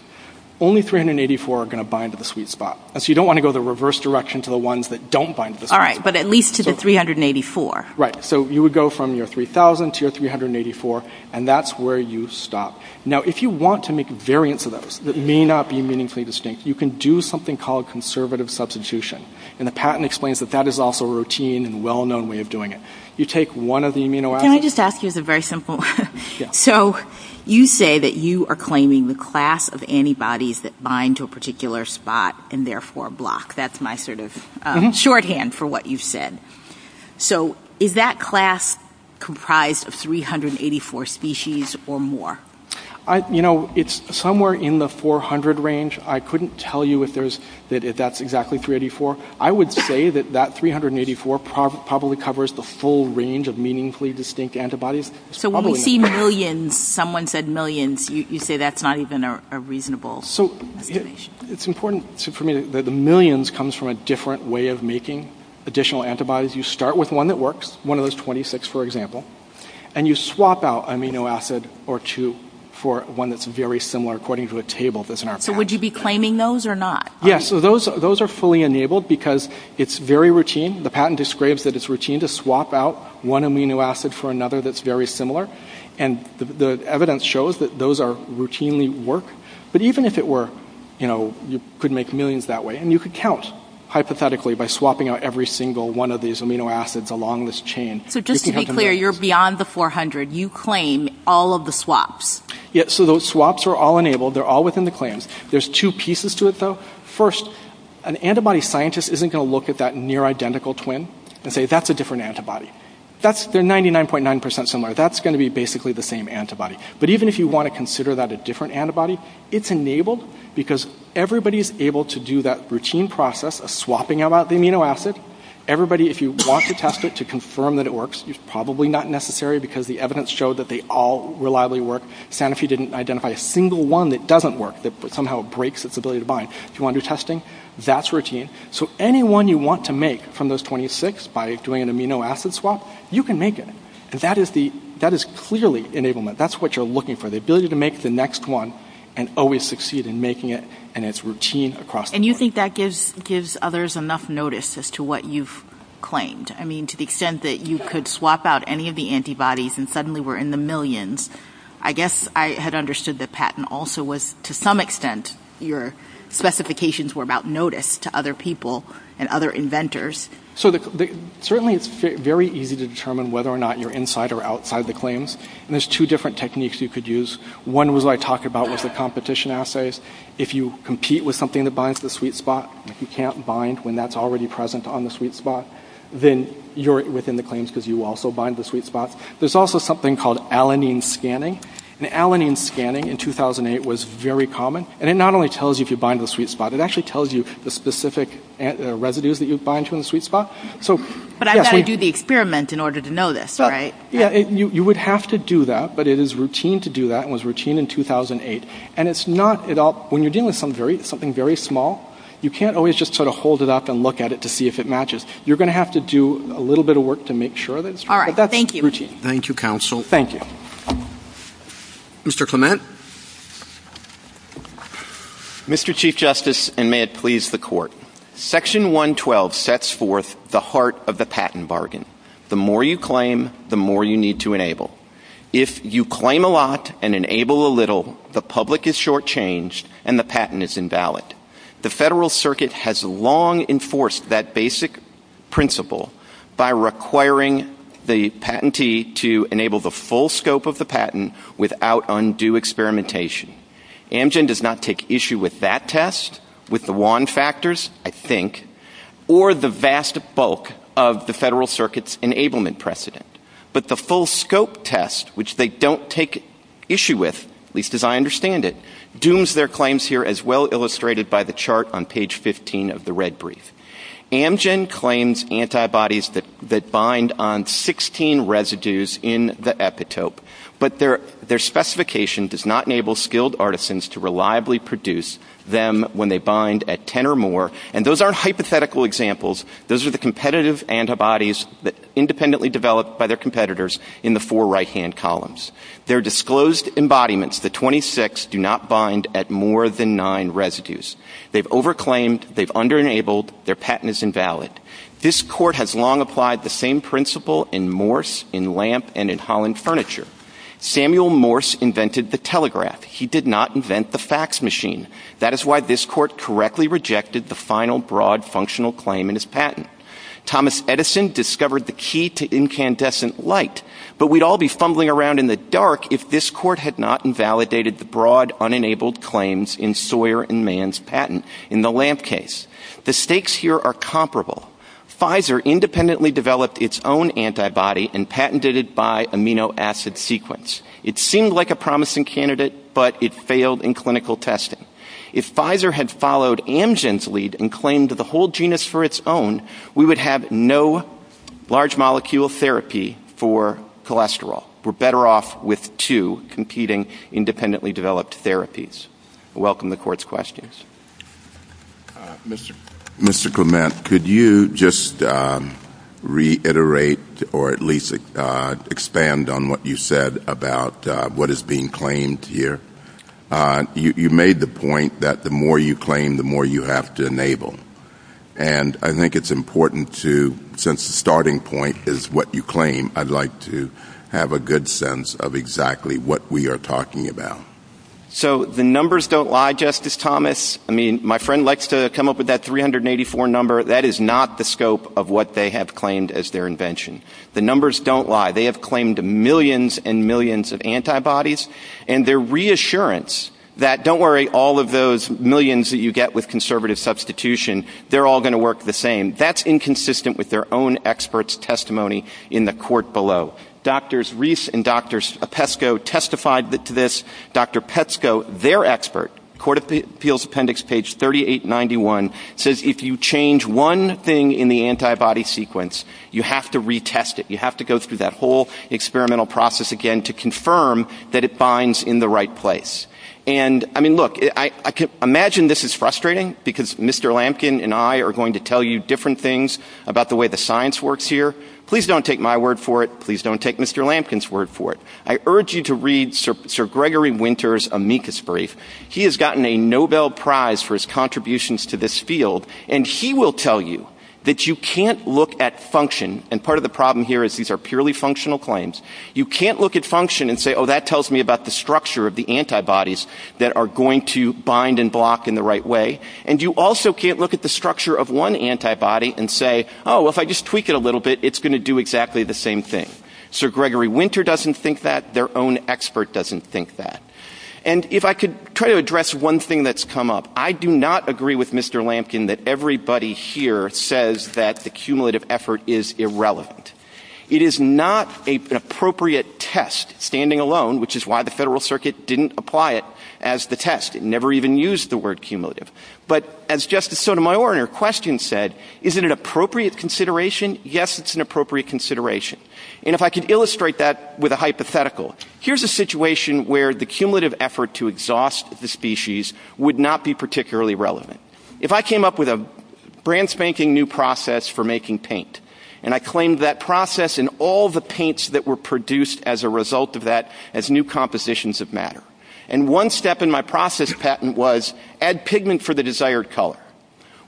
only 384 are going to bind to the sweet spot. So you don't want to go the reverse direction to the ones that don't bind to the sweet spot. All right, but at least to the 384. Right. So you would go from your 3,000 to your 384, and that's where you stop. Now, if you want to make variants of those that may not be meaningfully distinct, you can do something called conservative substitution. And the patent explains that that is also a routine and well-known way of doing it. Can I just ask you a very simple one? So you say that you are claiming the class of antibodies that bind to a particular spot and therefore block. That's my sort of shorthand for what you've said. So is that class comprised of 384 species or more? You know, it's somewhere in the 400 range. I couldn't tell you if that's exactly 384. I would say that that 384 probably covers the full range of meaningfully distinct antibodies. So when you see millions, someone said millions, you say that's not even reasonable. So it's important for me that the millions comes from a different way of making additional antibodies. You start with one that works, one of those 26, for example, and you swap out amino acid or two for one that's very similar according to a table that's in our patent. So would you be claiming those or not? Yeah, so those are fully enabled because it's very routine. The patent describes that it's routine to swap out one amino acid for another that's very similar. And the evidence shows that those routinely work. But even if it were, you know, you could make millions that way. And you could count, hypothetically, by swapping out every single one of these amino acids along this chain. So just to be clear, you're beyond the 400. You claim all of the swaps. Yeah, so those swaps are all enabled. They're all within the claims. There's two pieces to it, though. First, an antibody scientist isn't going to look at that near-identical twin and say, that's a different antibody. That's the 99.9% similar. That's going to be basically the same antibody. But even if you want to consider that a different antibody, it's enabled because everybody is able to do that routine process of swapping out the amino acid. Everybody, if you want to test it to confirm that it works, it's probably not necessary because the evidence showed that they all reliably work. Sanofi didn't identify a single one that doesn't work, that somehow breaks its ability to bind. If you want to do testing, that's routine. So any one you want to make from those 26 by doing an amino acid swap, you can make it. That is clearly enablement. That's what you're looking for, the ability to make the next one and always succeed in making it. And it's routine across the board. And you think that gives others enough notice as to what you've claimed? I mean, to the extent that you could swap out any of the antibodies and suddenly we're in the millions, I guess I had understood the patent also was, to some extent, your specifications were about notice to other people and other inventors. So certainly it's very easy to determine whether or not you're inside or outside the claims. And there's two different techniques you could use. One was I talked about with the competition assays. If you compete with something that binds the sweet spot, if you can't bind when that's already present on the sweet spot, then you're within the claims because you also bind the sweet spots. There's also something called alanine scanning. And alanine scanning in 2008 was very common. And it not only tells you if you bind the sweet spot. It actually tells you the specific residues that you bind to in the sweet spot. But I've got to do the experiment in order to know this, right? You would have to do that. But it is routine to do that. It was routine in 2008. And it's not at all, when you're dealing with something very small, you can't always just sort of hold it up and look at it to see if it matches. You're going to have to do a little bit of work to make sure that it's true. All right. Thank you. Thank you, counsel. Thank you. Mr. Clement. Mr. Chief Justice, and may it please the court. Section 112 sets forth the heart of the patent bargain. The more you claim, the more you need to enable. If you claim a lot and enable a little, the public is shortchanged and the patent is invalid. The Federal Circuit has long enforced that basic principle by requiring the patentee to enable the full scope of the patent without undue experimentation. Amgen does not take issue with that test, with the wand factors, I think, or the vast bulk of the Federal Circuit's enablement precedent. But the full scope test, which they don't take issue with, at least as I understand it, dooms their claims here as well illustrated by the chart on page 15 of the red brief. Amgen claims antibodies that bind on 16 residues in the epitope, but their specification does not enable skilled artisans to reliably produce them when they bind at 10 or more. And those aren't hypothetical examples. Those are the competitive antibodies independently developed by their competitors in the four right-hand columns. Their disclosed embodiments, the 26, do not bind at more than nine residues. They've over-claimed, they've under-enabled, their patent is invalid. This court has long applied the same principle in Morse, in Lamp, and in Holland Furniture. Samuel Morse invented the telegraph. He did not invent the fax machine. That is why this court correctly rejected the final broad functional claim in his patent. Thomas Edison discovered the key to incandescent light. But we'd all be fumbling around in the dark if this court had not invalidated the broad, unenabled claims in Sawyer and Mann's patent in the Lamp case. The stakes here are comparable. Pfizer independently developed its own antibody and patented it by amino acid sequence. It seemed like a promising candidate, but it failed in clinical testing. If Pfizer had followed Amgen's lead and claimed the whole genus for its own, we would have no large molecule therapy for cholesterol. We're better off with two competing independently developed therapies. I welcome the court's questions. Mr. Clement, could you just reiterate or at least expand on what you said about what is being claimed here? You made the point that the more you claim, the more you have to enable. And I think it's important to, since the starting point is what you claim, I'd like to have a good sense of exactly what we are talking about. So the numbers don't lie, Justice Thomas. I mean, my friend likes to come up with that 384 number. That is not the scope of what they have claimed as their invention. The numbers don't lie. They have claimed millions and millions of antibodies, and their reassurance that, don't worry, all of those millions that you get with conservative substitution, they're all going to work the same, that's inconsistent with their own experts' testimony in the court below. Drs. Reese and Drs. Pesco testified to this. Dr. Pesco, their expert, Court of Appeals Appendix page 3891, says if you change one thing in the antibody sequence, you have to retest it. You have to go through that whole experimental process again to confirm that it binds in the right place. And, I mean, look, I can imagine this is frustrating because Mr. Lampkin and I are going to tell you different things about the way the science works here. Please don't take my word for it. Please don't take Mr. Lampkin's word for it. I urge you to read Sir Gregory Winter's amicus brief. He has gotten a Nobel Prize for his contributions to this field, and he will tell you that you can't look at function, and part of the problem here is these are purely functional claims. You can't look at function and say, oh, that tells me about the structure of the antibodies that are going to bind and block in the right way. And you also can't look at the structure of one antibody and say, oh, if I just tweak it a little bit, it's going to do exactly the same thing. Sir Gregory Winter doesn't think that. Their own expert doesn't think that. And if I could try to address one thing that's come up, I do not agree with Mr. Lampkin that everybody here says that the cumulative effort is irrelevant. It is not an appropriate test standing alone, which is why the Federal Circuit didn't apply it as the test. It never even used the word cumulative. But as Justice Sotomayor in her question said, is it an appropriate consideration? Yes, it's an appropriate consideration. And if I could illustrate that with a hypothetical, here's a situation where the cumulative effort to exhaust the species would not be particularly relevant. If I came up with a brand-spanking-new process for making paint, and I claimed that process and all the paints that were produced as a result of that as new compositions of matter, and one step in my process patent was add pigment for the desired color,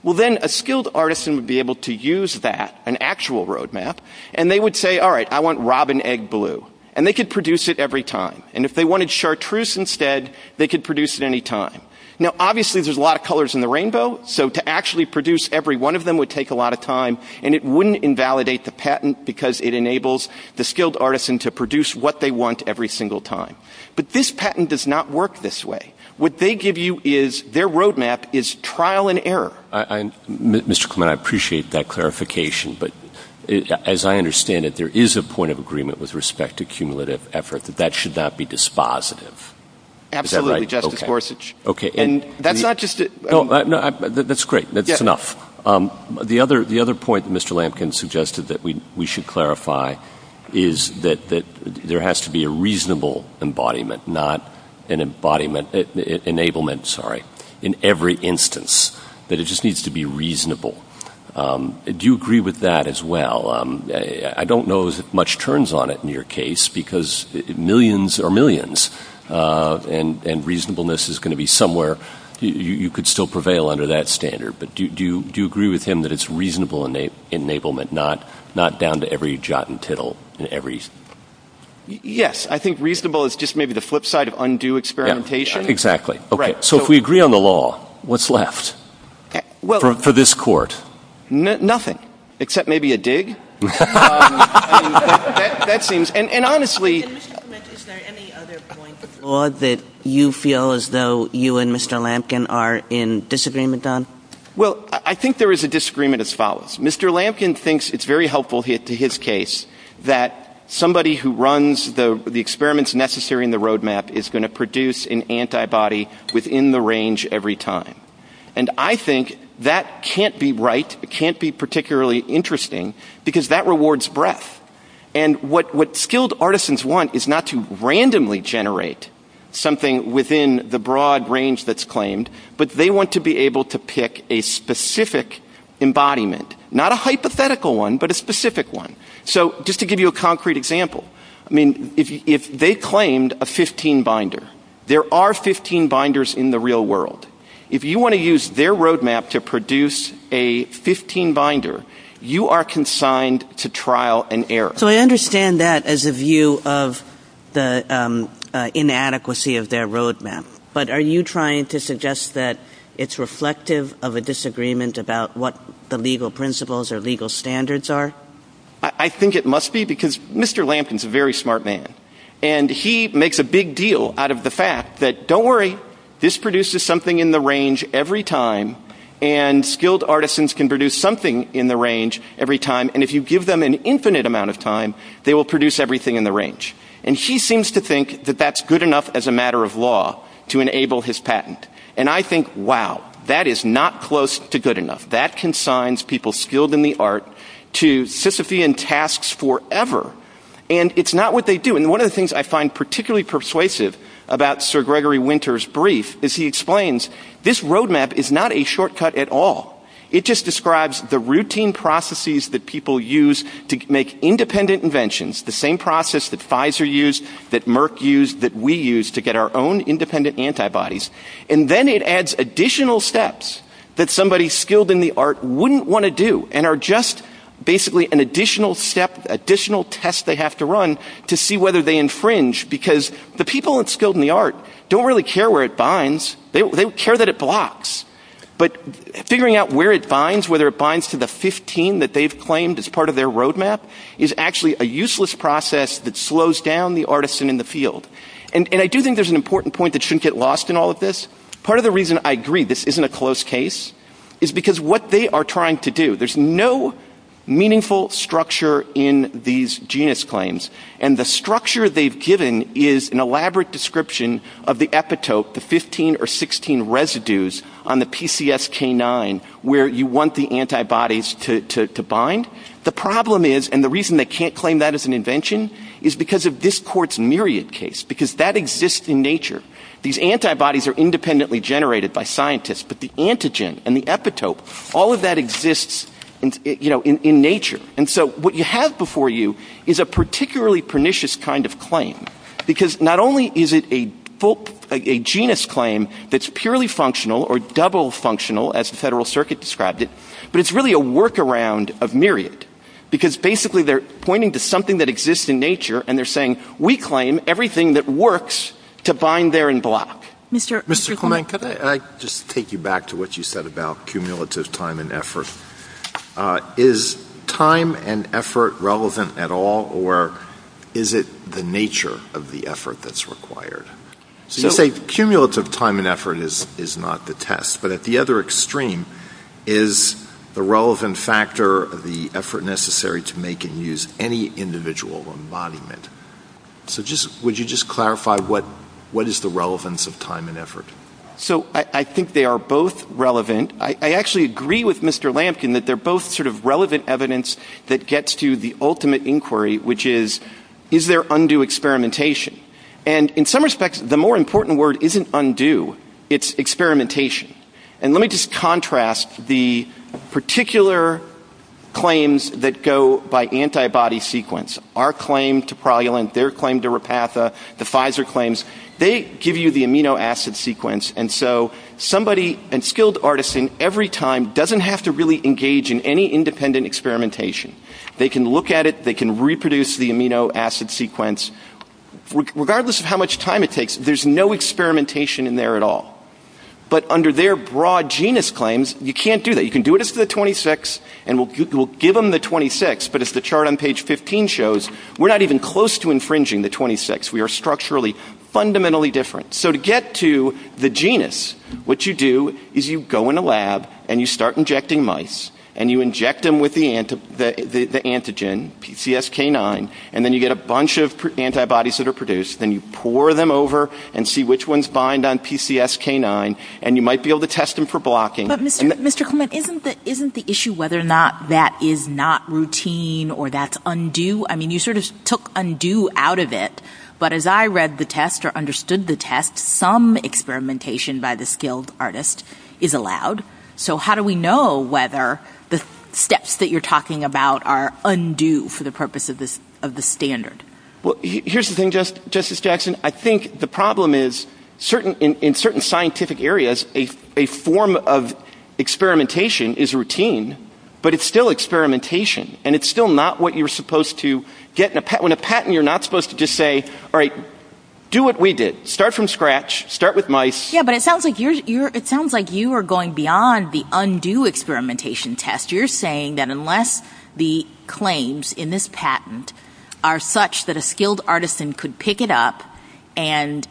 well, then a skilled artisan would be able to use that, an actual roadmap, and they would say, all right, I want robin egg blue. And they could produce it every time. And if they wanted chartreuse instead, they could produce it any time. Now, obviously, there's a lot of colors in the rainbow, so to actually produce every one of them would take a lot of time, and it wouldn't invalidate the patent because it enables the skilled artisan to produce what they want every single time. But this patent does not work this way. What they give you is, their roadmap is trial and error. Mr. Clement, I appreciate that clarification, but as I understand it, there is a point of agreement with respect to cumulative effort that that should not be dispositive. Absolutely, Justice Gorsuch. Okay, and... That's not just... No, that's great. That's enough. The other point that Mr. Lampkin suggested that we should clarify is that there has to be a reasonable embodiment, not an embodiment, enablement, sorry, in every instance, that it just needs to be reasonable. Do you agree with that as well? I don't know if much turns on it in your case because millions are millions, and reasonableness is going to be somewhere. You could still prevail under that standard, but do you agree with him that it's reasonable enablement, not down to every jot and tittle in every... Yes, I think reasonable is just maybe the flip side of undue experimentation. Exactly. So if we agree on the law, what's left for this Court? Nothing, except maybe a dig. That seems... And honestly... Mr. Schmidt, is there any other point in the law that you feel as though you and Mr. Lampkin are in disagreement on? Well, I think there is a disagreement as follows. Mr. Lampkin thinks it's very helpful to his case that somebody who runs the experiments necessary in the roadmap is going to produce an antibody within the range every time. And I think that can't be right. It can't be particularly interesting because that rewards breadth. And what skilled artisans want is not to randomly generate something within the broad range that's claimed, but they want to be able to pick a specific embodiment, not a hypothetical one, but a specific one. So just to give you a concrete example, I mean, if they claimed a 15-binder, there are 15 binders in the real world. If you want to use their roadmap to produce a 15-binder, you are consigned to trial and error. So I understand that as a view of the inadequacy of their roadmap. But are you trying to suggest that it's reflective of a disagreement about what the legal principles or legal standards are? I think it must be because Mr. Lampkin is a very smart man. And he makes a big deal out of the fact that, don't worry, this produces something in the range every time, and skilled artisans can produce something in the range every time. And if you give them an infinite amount of time, they will produce everything in the range. And she seems to think that that's good enough as a matter of law to enable his patent. And I think, wow, that is not close to good enough. That consigns people skilled in the art to Sisyphean tasks forever. And it's not what they do. And one of the things I find particularly persuasive about Sir Gregory Winter's brief is he explains, this roadmap is not a shortcut at all. It just describes the routine processes that people use to make independent inventions, the same process that Pfizer used, that Merck used, that we used to get our own independent antibodies. And then it adds additional steps that somebody skilled in the art wouldn't want to do and are just basically an additional step, additional test they have to run to see whether they infringe. Because the people that are skilled in the art don't really care where it binds. They care that it blocks. But figuring out where it binds, whether it binds to the 15 that they've claimed as part of their roadmap, is actually a useless process that slows down the artisan in the field. And I do think there's an important point that shouldn't get lost in all of this. Part of the reason I agree this isn't a close case is because what they are trying to do, there's no meaningful structure in these genus claims. And the structure they've given is an elaborate description of the epitope, the 15 or 16 residues on the PCSK9, where you want the antibodies to bind. The problem is, and the reason they can't claim that as an invention, is because of this court's myriad case. Because that exists in nature. These antibodies are independently generated by scientists, but the antigen and the epitope, all of that exists in nature. And so what you have before you is a particularly pernicious kind of claim. Because not only is it a genus claim that's purely functional or double functional, as the Federal Circuit described it, but it's really a workaround of myriad. Because basically they're pointing to something that exists in nature and they're saying, we claim everything that works to bind there and block. Mr. Clement, can I just take you back to what you said about cumulative time and effort? Is time and effort relevant at all or is it the nature of the effort that's required? So you say cumulative time and effort is not the test. But at the other extreme, is the relevant factor the effort necessary to make and use any individual or monument? So would you just clarify what is the relevance of time and effort? So I think they are both relevant. I actually agree with Mr. Lamkin that they're both sort of relevant evidence that gets to the ultimate inquiry, which is, is there undue experimentation? And in some respects, the more important word isn't undue. It's experimentation. And let me just contrast the particular claims that go by antibody sequence. Our claim to prolulent, their claim to Repatha, the Pfizer claims, they give you the amino acid sequence. And so somebody, a skilled artisan, every time doesn't have to really engage in any independent experimentation. They can look at it, they can reproduce the amino acid sequence. Regardless of how much time it takes, there's no experimentation in there at all. But under their broad genus claims, you can't do that. You can do it as to the 26 and we'll give them the 26, but as the chart on page 15 shows, we're not even close to infringing the 26. We are structurally fundamentally different. So to get to the genus, what you do is you go in a lab and you start injecting mice and you inject them with the antigen, PCSK9, and then you get a bunch of antibodies that are produced. Then you pour them over and see which ones bind on PCSK9 and you might be able to test them for blocking. But Mr. Coleman, isn't the issue whether or not that is not routine or that's undue? I mean, you sort of took undue out of it, but as I read the test or understood the test, some experimentation by the skilled artist is allowed. So how do we know whether the steps that you're talking about are undue for the purpose of the standard? Well, here's the thing, Justice Jackson. I think the problem is in certain scientific areas, a form of experimentation is routine, but it's still experimentation and it's still not what you're supposed to get. When a patent, you're not supposed to just say, all right, do what we did. Start from scratch, start with mice. Yeah, but it sounds like you are going beyond the undue experimentation test. You're saying that unless the claims in this patent are such that a skilled artisan could pick it up and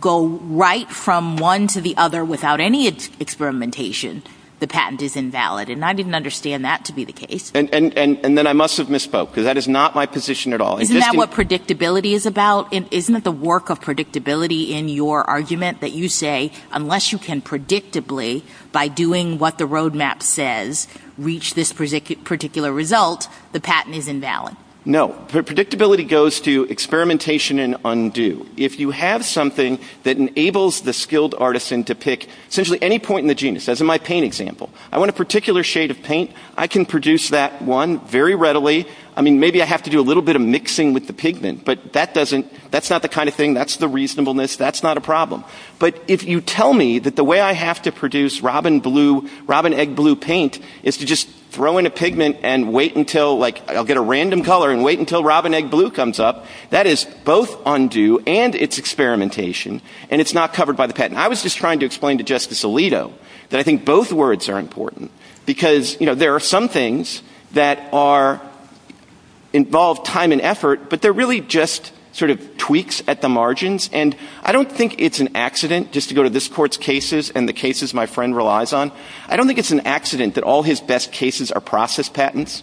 go right from one to the other without any experimentation, the patent is invalid. And I didn't understand that to be the case. And then I must have misspoke because that is not my position at all. Isn't that what predictability is about? Isn't it the work of predictability in your argument that you say unless you can predictably, by doing what the roadmap says, reach this particular result, the patent is invalid? No, the predictability goes to experimentation and undue. If you have something that enables the skilled artisan to pick essentially any point in the genus, as in my paint example, I want a particular shade of paint, I can produce that one very readily. I mean, maybe I have to do a little bit of mixing with the pigment, but that doesn't, that's not the kind of thing, that's the reasonableness, that's not a problem. But if you tell me that the way I have to produce robin blue, robin egg blue paint is to just throw in a pigment and wait until, like I'll get a random color and wait until robin egg blue comes up, that is both undue and it's experimentation and it's not covered by the patent. I was just trying to explain to Justice Alito that I think both words are important because there are some things that are, involve time and effort, but they're really just sort of tweaks at the margins and I don't think it's an accident, just to go to this court's cases and the cases my friend relies on, I don't think it's an accident that all his best cases are process patents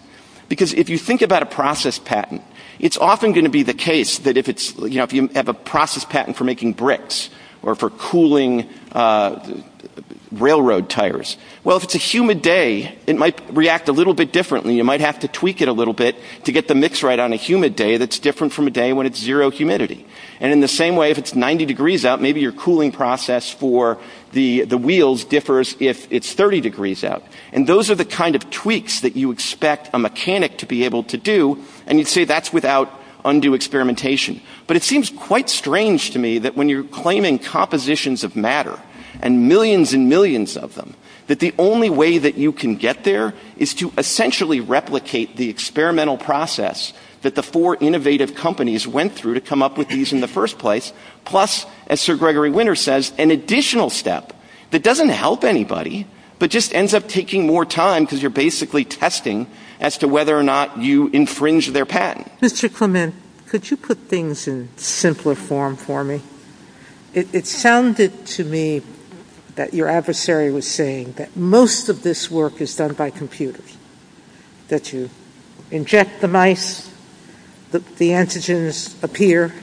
because if you think about a process patent, it's often gonna be the case that if it's, if you have a process patent for making bricks or for cooling railroad tires, well, if it's a humid day, it might react a little bit differently. You might have to tweak it a little bit to get the mix right on a humid day and it's different from a day when it's zero humidity. And in the same way, if it's 90 degrees out, maybe your cooling process for the wheels differs if it's 30 degrees out. And those are the kind of tweaks that you expect a mechanic to be able to do and you'd say that's without undue experimentation. But it seems quite strange to me that when you're claiming compositions of matter and millions and millions of them, that the only way that you can get there is to essentially replicate the experimental process that the four innovative companies went through to come up with these in the first place plus, as Sir Gregory Winter says, an additional step that doesn't help anybody but just ends up taking more time because you're basically testing as to whether or not you infringe their patent. Mr. Clement, could you put things in simpler form for me? It sounded to me that your adversary was saying that most of this work is done by computers, that you inject the mice, the antigens appear,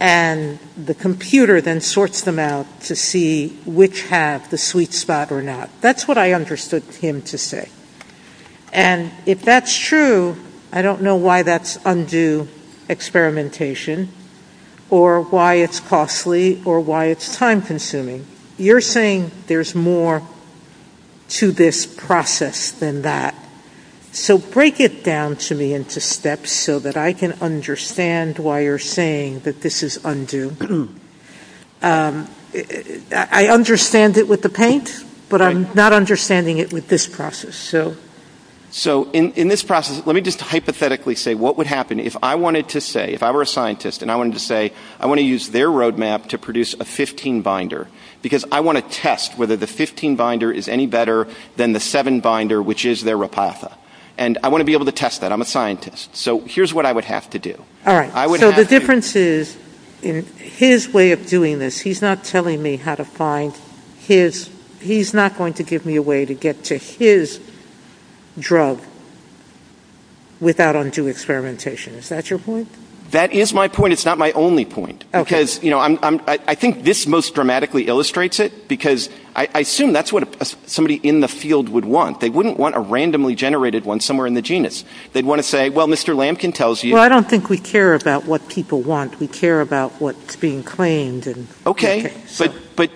and the computer then sorts them out to see which has the sweet spot or not. That's what I understood him to say. And if that's true, I don't know why that's undue experimentation or why it's costly or why it's time-consuming. You're saying there's more to this process than that. So break it down to me into steps so that I can understand why you're saying that this is undue. I understand it with the paint, but I'm not understanding it with this process. So in this process, let me just hypothetically say what would happen if I wanted to say, if I were a scientist and I wanted to say I want to use their roadmap to produce a 15-binder because I want to test whether the 15-binder is any better than the 7-binder, which is their Rapasa. And I want to be able to test that. I'm a scientist. So here's what I would have to do. All right. So the difference is in his way of doing this, he's not telling me how to find his... He's not going to give me a way to get to his drug without undue experimentation. Is that your point? That is my point. It's not my only point. Okay. Because, you know, I think this most dramatically illustrates it because I assume that's what somebody in the field would want. They wouldn't want a randomly generated one somewhere in the genus. They'd want to say, well, Mr. Lamkin tells you... Well, I don't think we care about what people want. We care about what's being claimed. Okay. But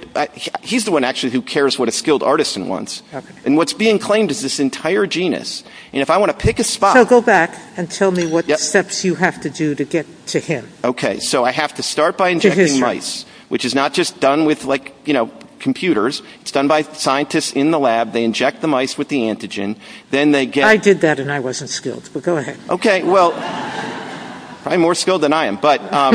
he's the one actually who cares what a skilled artisan wants. And what's being claimed is this entire genus. And if I want to pick a spot... So go back and tell me what steps you have to do to get to him. Okay. So I have to start by injecting mice, which is not just done with, like, you know, computers. It's done by scientists in the lab. They inject the mice with the antigen. Then they get... I did that and I wasn't skilled. Go ahead. Okay. Well, I'm more skilled than I am.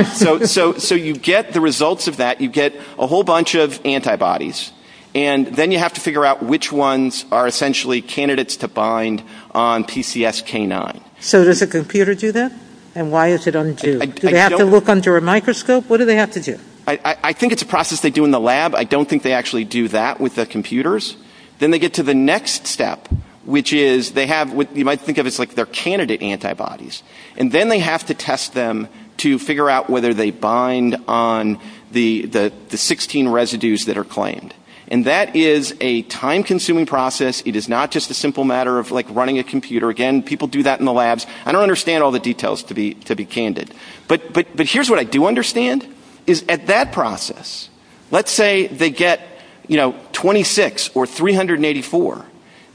So you get the results of that. You get a whole bunch of antibodies. And then you have to figure out which ones are essentially candidates to bind on PCSK9. So does the computer do that? And why is it undue? Do they have to look under a microscope? What do they have to do? I think it's a process they do in the lab. I don't think they actually do that with the computers. Then they get to the next step, which is they have... You might think of it as, like, their candidate antibodies. And then they have to test them to figure out whether they bind on the 16 residues that are claimed. And that is a time-consuming process. It is not just a simple matter of, like, running a computer. Again, people do that in the labs. I don't understand all the details, to be candid. But here's what I do understand, is at that process, let's say they get, you know, 26 or 384.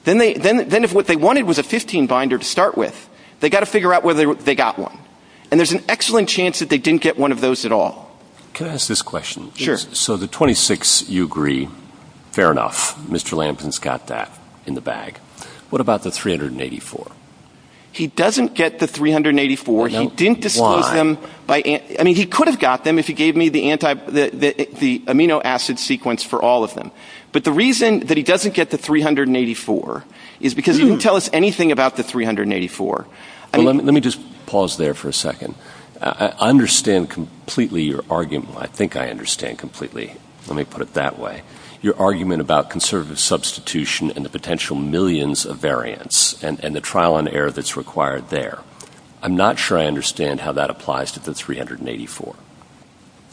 Then what they wanted was a 15 binder to start with. They got to figure out whether they got one. And there's an excellent chance that they didn't get one of those at all. Can I ask this question? Sure. So the 26, you agree, fair enough, Mr. Lampkin's got that in the bag. What about the 384? He doesn't get the 384. Why? He didn't disclose them by... I mean, he could have got them if he gave me the amino acid sequence for all of them. But the reason that he doesn't get the 384 is because he didn't tell us anything about the 384. Let me just pause there for a second. I understand completely your argument. I think I understand completely. Let me put it that way. Your argument about conservative substitution and the potential millions of variants and the trial and error that's required there. I'm not sure I understand how that applies to the 384.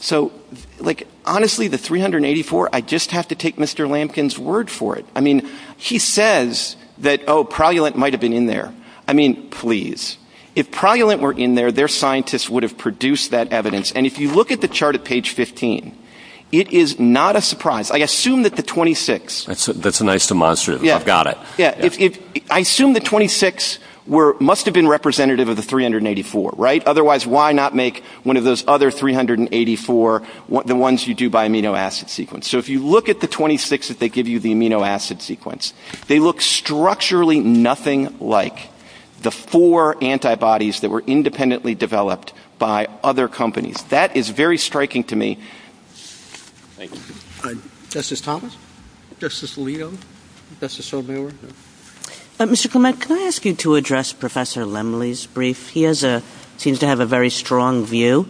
So, like, honestly, the 384, I just have to take Mr. Lampkin's word for it. I mean, he says that, oh, progulant might have been in there. I mean, please. If progulant were in there, their scientists would have produced that evidence. And if you look at the chart at page 15, it is not a surprise. I assume that the 26... That's a nice demonstrative. I've got it. I assume the 26 must have been representative of the 384. Right? Otherwise, why not make one of those other 384 the ones you do by amino acid sequence? So if you look at the 26 that they give you the amino acid sequence, they look structurally nothing like the four antibodies that were independently developed by other companies. That is very striking to me. Thank you. Justice Thomas? Justice Leo? Justice O'Connor? Mr. Clement, can I ask you to address Professor Lemley's brief? He has a... seems to have a very strong view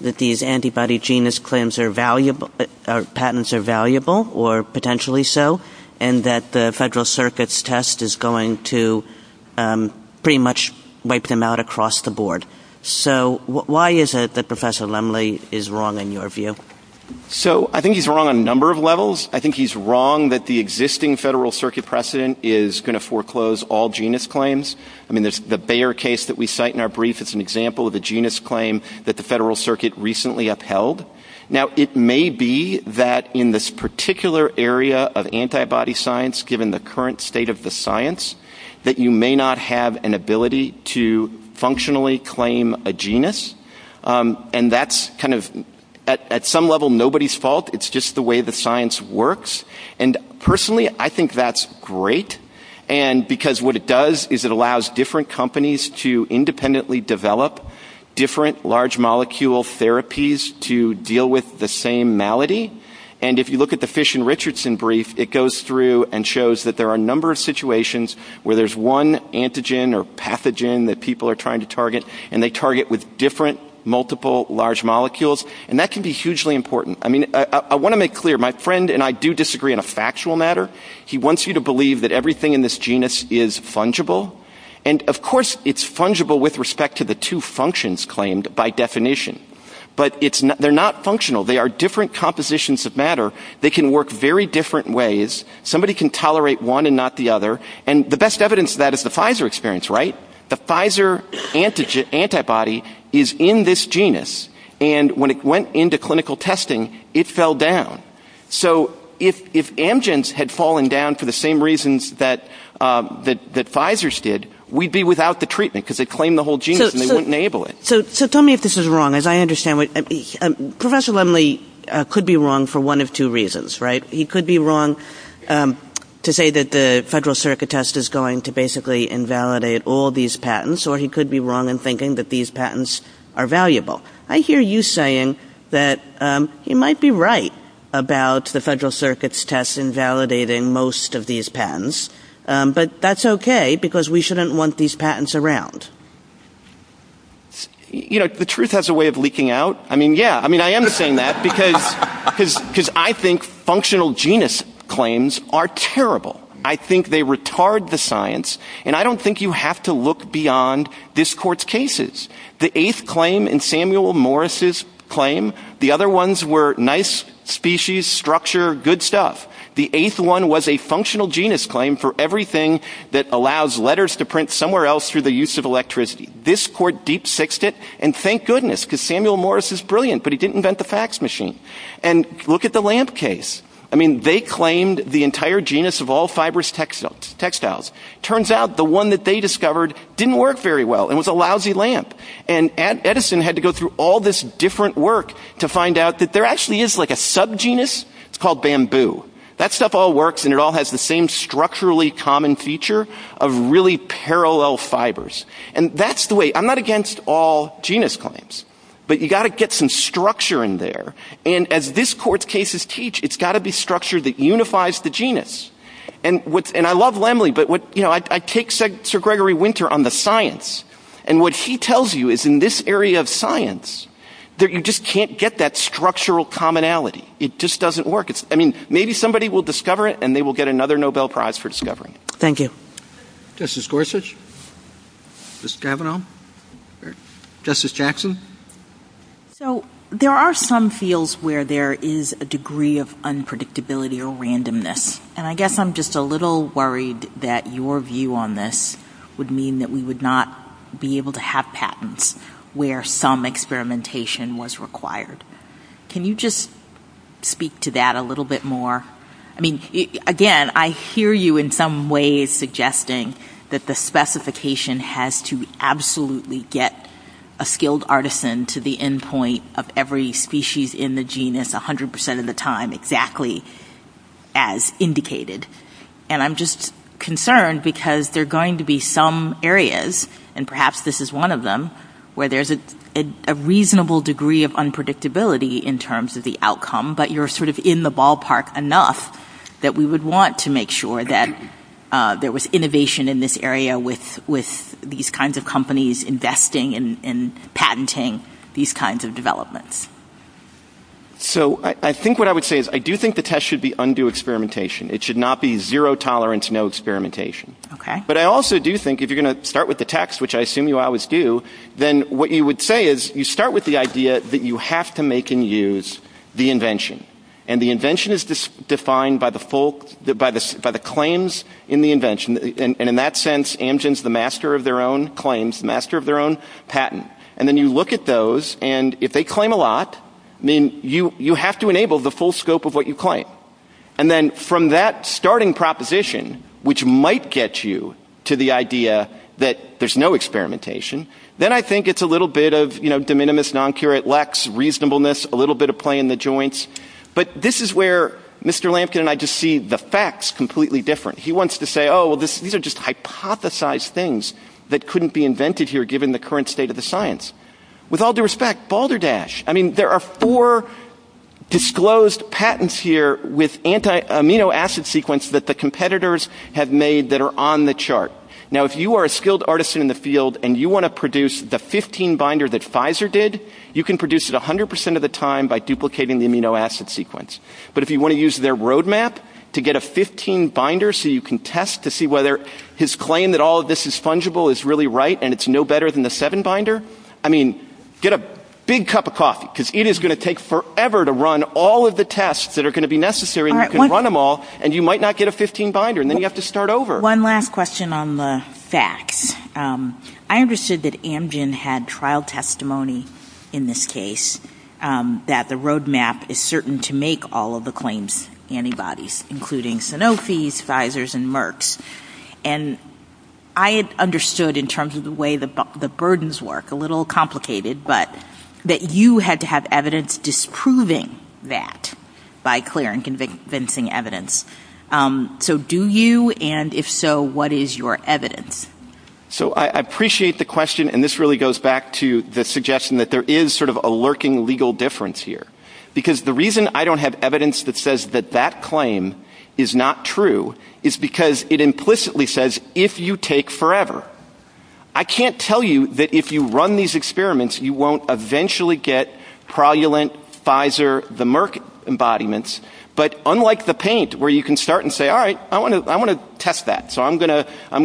that these antibody genus claims are valuable, or patents are valuable, or potentially so, and that the Federal Circuit's test is going to pretty much wipe them out across the board. So why is it that Professor Lemley is wrong, in your view? So I think he's wrong on a number of levels. I think he's wrong that the existing Federal Circuit precedent is going to foreclose all genus claims. I mean, the Bayer case that we cite in our brief, it's an example of a genus claim that the Federal Circuit recently upheld. Now, it may be that in this particular area of antibody science, given the current state of the science, that you may not have an ability to functionally claim a genus. And that's kind of, at some level, nobody's fault. It's just the way the science works. And personally, I think that's great, because what it does is it allows different companies to independently develop different large molecule therapies to deal with the same malady. And if you look at the Fish and Richardson brief, it goes through and shows that there are a number of situations where there's one antigen or pathogen that people are trying to target, and they target with different multiple large molecules. And that can be hugely important. I mean, I want to make clear, my friend and I do disagree on a factual matter. He wants you to believe that everything in this genus is fungible. And, of course, it's fungible with respect to the two functions claimed by definition. But they're not functional. They are different compositions of matter. They can work very different ways. Somebody can tolerate one and not the other. And the best evidence of that is the Pfizer experience, right? The Pfizer antibody is in this genus, and when it went into clinical testing, it fell down. So if amgens had fallen down for the same reasons that Pfizer's did, we'd be without the treatment, because they'd claim the whole genus, and they wouldn't enable it. So tell me if this is wrong. As I understand, Professor Lemley could be wrong for one of two reasons, right? He could be wrong to say that the Federal Circuit test is going to basically invalidate all these patents, or he could be wrong in thinking that these patents are valuable. I hear you saying that you might be right about the Federal Circuit's test invalidating most of these patents, but that's okay, because we shouldn't want these patents around. You know, the truth has a way of leaking out. I mean, yeah, I am saying that, because I think functional genus claims are terrible. I think they retard the science, and I don't think you have to look beyond this court's cases. The eighth claim in Samuel Morris' claim, the other ones were nice species, structure, good stuff. The eighth one was a functional genus claim for everything that allows letters to print somewhere else through the use of electricity. This court deep-sixed it, and thank goodness, because Samuel Morris is brilliant, but he didn't invent the fax machine. And look at the lamp case. I mean, they claimed the entire genus of all fibrous textiles. Turns out the one that they discovered didn't work very well and was a lousy lamp. And Edison had to go through all this different work to find out that there actually is like a sub-genus. It's called bamboo. That stuff all works, and it all has the same structurally common feature of really parallel fibers. And that's the way. I'm not against all genus claims, but you've got to get some structure in there. And as this court's cases teach, it's got to be structure that unifies the genus. And I love Lemley, but I take Sir Gregory Winter on the science, and what he tells you is in this area of science that you just can't get that structural commonality. It just doesn't work. I mean, maybe somebody will discover it, and they will get another Nobel Prize for discovering it. Thank you. Justice Gorsuch? Justice Kavanaugh? Justice Jackson? So there are some fields where there is a degree of unpredictability or randomness, and I guess I'm just a little worried that your view on this would mean that we would not be able to have patents where some experimentation was required. Can you just speak to that a little bit more? I mean, again, I hear you in some way suggesting that the specification has to absolutely get a skilled artisan to the end point of every species in the genus 100% of the time exactly as indicated. And I'm just concerned because there are going to be some areas, and perhaps this is one of them, where there's a reasonable degree of unpredictability in terms of the outcome, but you're sort of in the ballpark enough that we would want to make sure that there was innovation in this area with these kinds of companies investing in patenting these kinds of developments. So I think what I would say is I do think the test should be undue experimentation. It should not be zero tolerance, no experimentation. But I also do think if you're going to start with the text, which I assume you always do, then what you would say is you start with the idea that you have to make and use the invention. And the invention is defined by the claims in the invention. And in that sense, Amgen's the master of their own claims, the master of their own patent. And then you look at those, and if they claim a lot, then you have to enable the full scope of what you claim. And then from that starting proposition, which might get you to the idea that there's no experimentation, then I think it's a little bit of, you know, noncurate lex, reasonableness, a little bit of play in the joints. But this is where Mr. Lampkin and I just see the facts completely different. He wants to say, oh, well, these are just hypothesized things that couldn't be invented here given the current state of the science. With all due respect, Balderdash, I mean, there are four disclosed patents here with anti-amino acid sequence that the competitors have made that are on the chart. Now, if you are a skilled artisan in the field and you want to produce the 15-binder that Pfizer did, you can produce it 100% of the time by duplicating the amino acid sequence. But if you want to use their roadmap to get a 15-binder so you can test to see whether his claim that all of this is fungible is really right and it's no better than the 7-binder, I mean, get a big cup of coffee, because it is going to take forever to run all of the tests that are going to be necessary and you can run them all, and you might not get a 15-binder, and then you have to start over. One last question on the facts. I understood that Amgen had trial testimony in this case that the roadmap is certain to make all of the claims antibodies, including Sanofi's, Pfizer's, and Merck's. And I understood in terms of the way the burdens work, a little complicated, but that you had to have evidence disproving that by clear and convincing evidence. So do you, and if so, what is your evidence? So I appreciate the question, and this really goes back to the suggestion that there is sort of a lurking legal difference here. Because the reason I don't have evidence that says that that claim is not true is because it implicitly says, if you take forever. I can't tell you that if you run these experiments, you won't eventually get Prolulent, Pfizer, the Merck embodiments, but unlike the paint where you can start and say, all right, I want to test that, so I'm going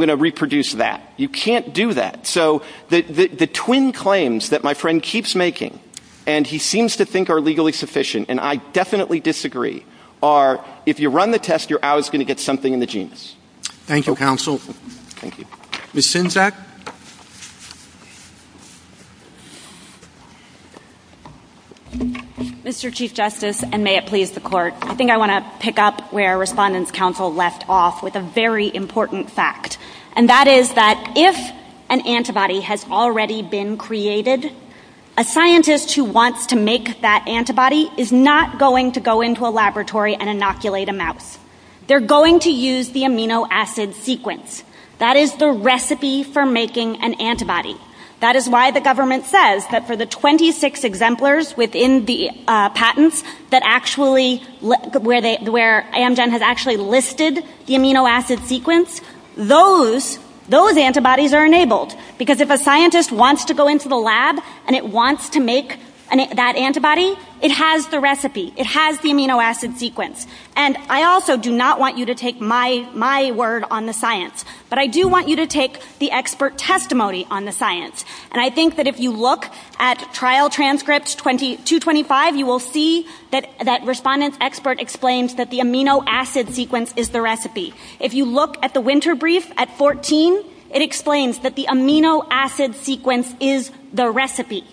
to reproduce that. You can't do that. So the twin claims that my friend keeps making, and he seems to think are legally sufficient, and I definitely disagree, are if you run the test, you're always going to get something in the genes. Thank you, counsel. Thank you. Ms. Sinzak? Mr. Chief Justice, and may it please the court, I think I want to pick up where Respondent's Counsel left off with a very important fact, and that is that if an antibody has already been created, a scientist who wants to make that antibody is not going to go into a laboratory and inoculate a mouse. They're going to use the amino acid sequence. That is the recipe for making the antibody. That is why the government says that for the 26 exemplars within the patents where Amgen has actually listed the amino acid sequence, those antibodies are enabled, because if a scientist wants to go into the lab and it wants to make that antibody, it has the recipe. It has the amino acid sequence. And I also do not want you to take my word on the science, but I do want you to take the expert testimony on the science. And I think that if you look at Trial Transcript 225, you will see that Respondent's expert explains that the amino acid sequence is the recipe. If you look at the winter brief at 14, it explains that the amino acid sequence is the recipe.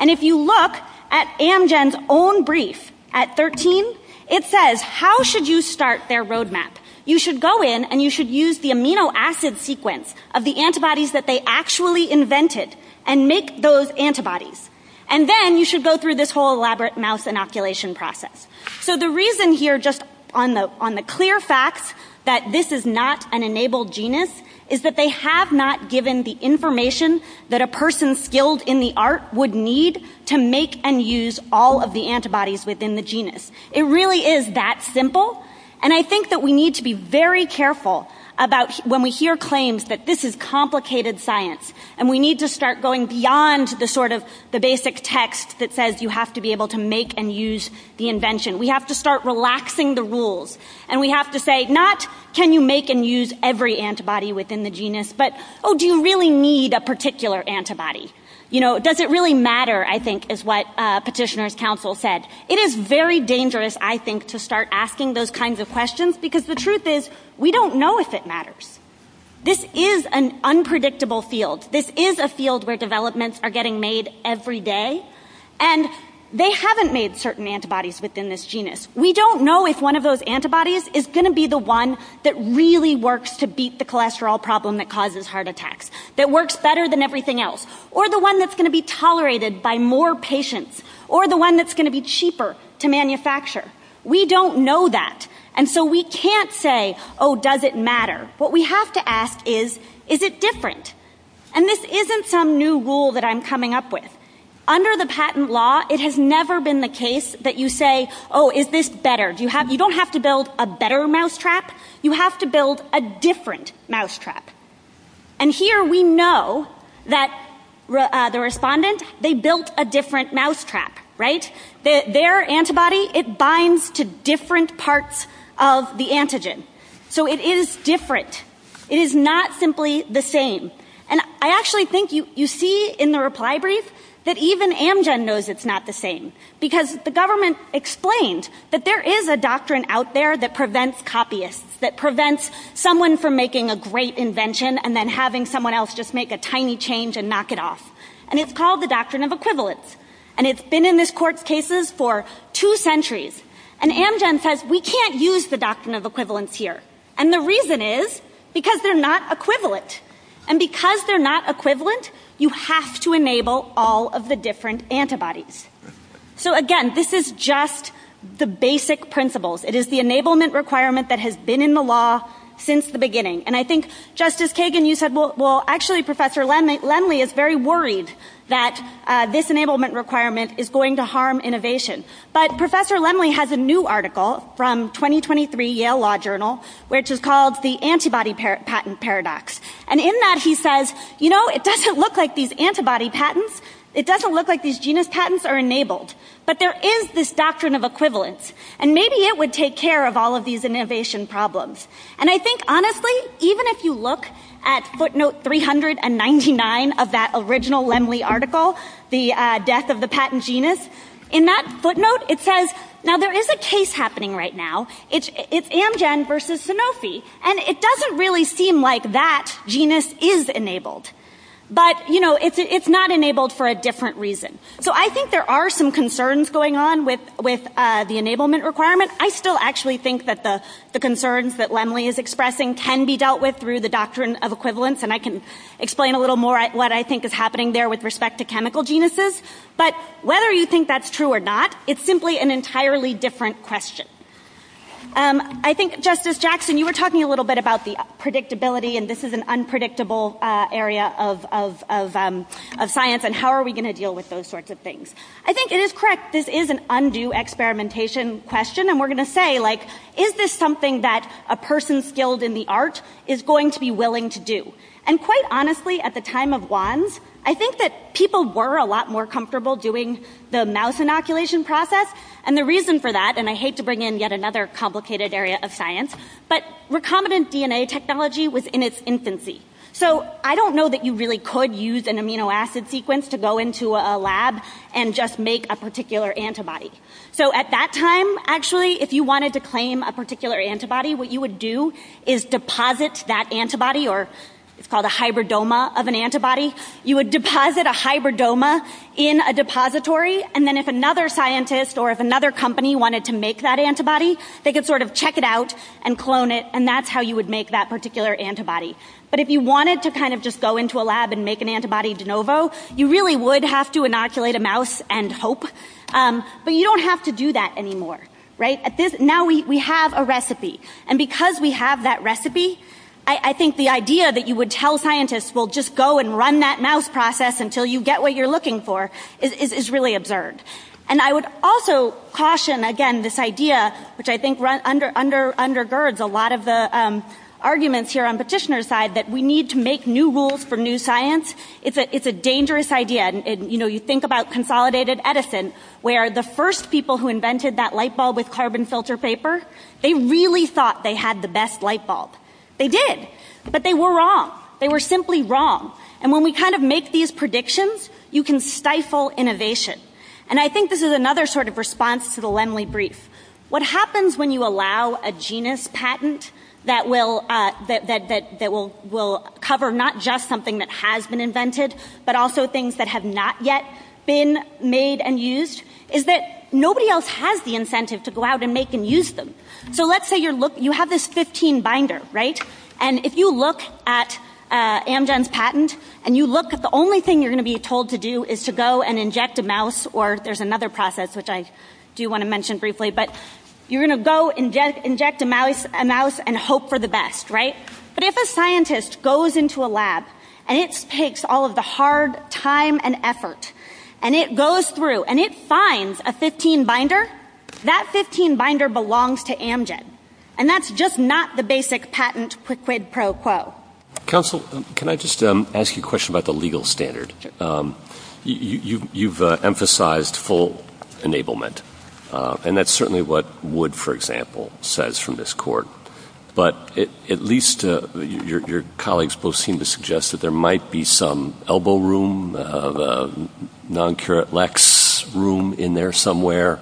And if you look at Amgen's own brief at 13, it says how should you start their roadmap. You should go in and you should use the amino acid sequence of the antibodies that they actually invented and make those antibodies. And then you should go through this whole elaborate mouse inoculation process. So the reason here, just on the clear facts, that this is not an enabled genus, is that they have not given the information that a person skilled in the art would need to make and use all of the antibodies within the genus. It really is that simple. And I think that we need to be very careful when we hear claims that this is complicated science and we need to start going beyond the basic text that says you have to be able to make and use the invention. We have to start relaxing the rules. And we have to say not can you make and use every antibody within the genus, but do you really need a particular antibody? Does it really matter, I think, is what petitioner's counsel said. It is very dangerous, I think, to start asking those kinds of questions because the truth is we don't know if it matters. This is an unpredictable field. This is a field where developments are getting made every day. And they haven't made certain antibodies within this genus. We don't know if one of those antibodies is going to be the one that really works to beat the cholesterol problem that causes heart attacks, that works better than everything else, or the one that's going to be tolerated by more patients, or the one that's going to be cheaper to manufacture. We don't know that. And so we can't say, oh, does it matter? What we have to ask is, is it different? And this isn't some new rule that I'm coming up with. Under the patent law, it has never been the case that you say, oh, is this better? You don't have to build a better mousetrap. You have to build a different mousetrap. And here we know that the respondents, they built a different mousetrap, right? Their antibody, it binds to different parts of the antigen. So it is different. It is not simply the same. And I actually think you see in the reply brief that even Amgen knows it's not the same, because the government explained that there is a doctrine out there that prevents copyists, that prevents someone from making a great invention and then having someone else just make a tiny change and knock it off. And it's called the doctrine of equivalence. And it's been in this court's cases for two centuries. And Amgen says, we can't use the doctrine of equivalence here. And the reason is because they're not equivalent. And because they're not equivalent, you have to enable all of the different antibodies. So again, this is just the basic principles. It is the enablement requirement that has been in the law since the beginning. And I think, Justice Kagan, you said, well, actually, Professor Lenly is very worried that this enablement requirement is going to harm innovation. But Professor Lenly has a new article from 2023 Yale Law Journal, which is called the antibody patent paradox. And in that, he says, you know, it doesn't look like these antibody patents. It doesn't look like these genus patents are enabled. But there is this doctrine of equivalence. And maybe it would take care of all of these innovation problems. And I think, honestly, even if you look at footnote 300 and 99 of that original Lenly article, the death of the patent genus, in that footnote, it says, now, there is a case happening right now. It's Amgen versus Sanofi. And it doesn't really seem like that genus is enabled. But, you know, it's not enabled for a different reason. So I think there are some concerns going on with the enablement requirement. I still actually think that the concerns that Lenly is expressing can be dealt with through the doctrine of equivalence. And I can explain a little more what I think is happening there with respect to chemical genuses. But whether you think that's true or not, it's simply an entirely different question. I think, Justice Jackson, you were talking a little bit about the predictability. And this is an unpredictable area of science. And how are we going to deal with those sorts of things? I think it is correct. This is an undue experimentation question. And we're going to say, like, is this something that a person skilled in the art is going to be willing to do? And quite honestly, at the time of WAND, I think that people were a lot more comfortable doing the mouse inoculation process. And the reason for that, and I hate to bring in yet another complicated area of science, but recombinant DNA technology was in its infancy. So I don't know that you really could use an amino acid sequence to go into a lab and just make a particular antibody. So at that time, actually, if you wanted to claim a particular antibody, what you would do is deposit that antibody, or it's called a hybridoma of an antibody. You would deposit a hybridoma in a depository. And then if another scientist or if another company wanted to make that antibody, they could sort of check it out and clone it. And that's how you would make that particular antibody. But if you wanted to kind of just go into a lab and make an antibody de novo, you really would have to inoculate a mouse and hope. But you don't have to do that anymore. Now we have a recipe. And because we have that recipe, I think the idea that you would tell scientists, well, just go and run that mouse process until you get what you're looking for, is really absurd. And I would also caution, again, this idea, which I think undergirds a lot of the arguments here on Petitioner's side, that we need to make new rules for new science. It's a dangerous idea. You think about consolidated Edison, where the first people who invented that light bulb with carbon filter paper, they really thought they had the best light bulb. They did. But they were wrong. They were simply wrong. And when we kind of make these predictions, you can stifle innovation. And I think this is another sort of response to the Lemley brief. What happens when you allow a genus patent that will cover not just something that has been invented, but also things that have not yet been made and used, is that nobody else has the incentive to go out and make and use them. So let's say you have this 15 binder, right? And if you look at Amgen's patent, and you look at the only thing you're going to be told to do is to go and inject a mouse, or there's another process which I do want to mention briefly, but you're going to go and inject a mouse and hope for the best, right? But if a scientist goes into a lab, and it takes all of the hard time and effort, and it goes through and it finds a 15 binder, that 15 binder belongs to Amgen. And that's just not the basic patent quid pro quo. Counsel, can I just ask you a question about the legal standard? You've emphasized full enablement. And that's certainly what Wood, for example, says from this court. But at least your colleagues both seem to suggest that there might be some elbow room, non-curate lex room in there somewhere,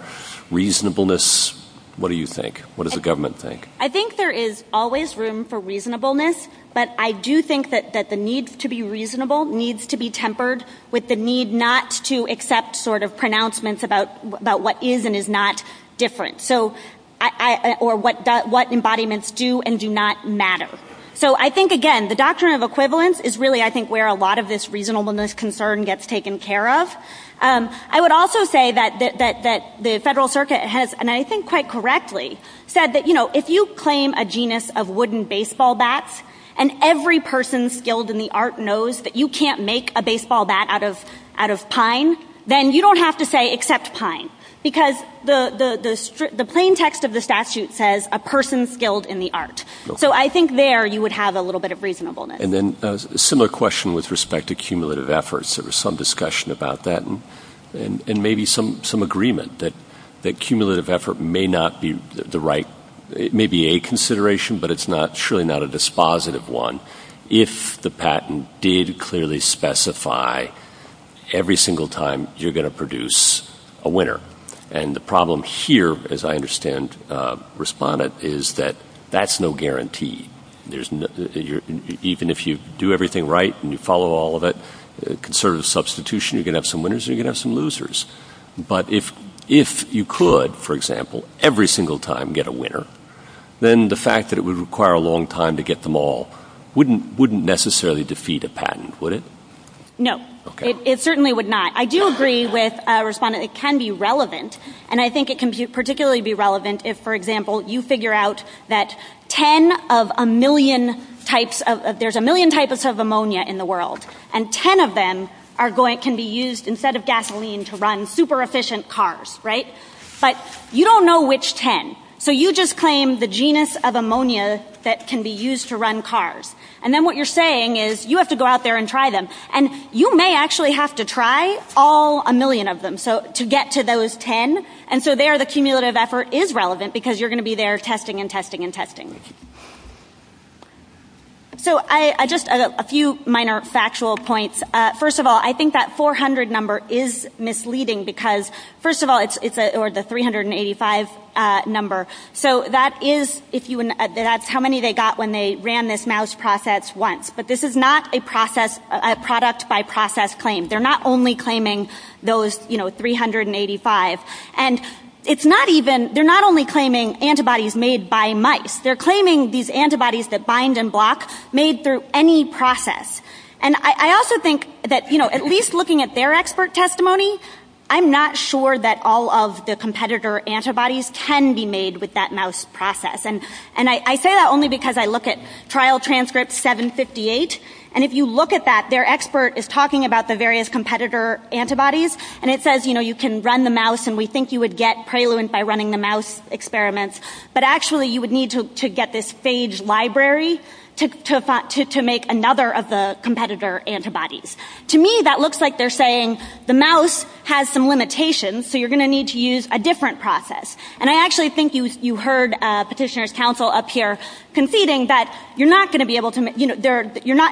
reasonableness. What do you think? What does the government think? I think there is always room for reasonableness. But I do think that the need to be reasonable needs to be tempered with the need not to accept sort of pronouncements about what is and is not different. Or what embodiments do and do not matter. So I think, again, the doctrine of equivalence is really, I think, where a lot of this reasonableness concern gets taken care of. I would also say that the Federal Circuit has, and I think quite correctly, said that if you claim a genus of wooden baseball bats, and every person skilled in the art knows that you can't make a baseball bat out of pine, then you don't have to say accept pine. Because the plain text of the statute says a person skilled in the art. So I think there you would have a little bit of reasonableness. And then a similar question with respect to cumulative efforts. There was some discussion about that, and maybe some agreement that cumulative effort may not be the right, it may be a consideration, but it's surely not a dispositive one. If the patent did clearly specify every single time you're going to produce a winner. And the problem here, as I understand, Respondent, is that that's no guarantee. Even if you do everything right and you follow all of it, conservative substitution, you're going to have some winners and you're going to have some losers. But if you could, for example, every single time get a winner, then the fact that it would require a long time to get them all wouldn't necessarily defeat a patent, would it? No. It certainly would not. I do agree with Respondent, it can be relevant. And I think it can particularly be relevant if, for example, you figure out that there's a million types of ammonia in the world. And 10 of them can be used instead of gasoline to run super efficient cars. But you don't know which 10. So you just claim the genus of ammonia that can be used to run cars. And then what you're saying is you have to go out there and try them. And you may actually have to try all a million of them to get to those 10. And so there, the cumulative effort is relevant because you're going to be there testing and testing and testing. So just a few minor factual points. First of all, I think that 400 number is misleading because, first of all, it's the 385 number. So that is how many they got when they ran this mouse process once. But this is not a product by process claim. They're not only claiming those 385. And they're not only claiming antibodies made by mice. They're claiming these antibodies that bind and block made through any process. And I also think that, at least looking at their expert testimony, I'm not sure that all of the competitor antibodies can be made with that mouse process. And I say that only because I look at trial transcripts 758. And if you look at that, their expert is talking about the various competitor antibodies. And it says you can run the mouse and we think you would get preluent by running the mouse experiments. But actually, you would need to get this phage library to make another of the competitor antibodies. To me, that looks like they're saying the mouse has some limitations. So you're going to need to use a different process. And I actually think you heard petitioner's counsel up here conceding that you're not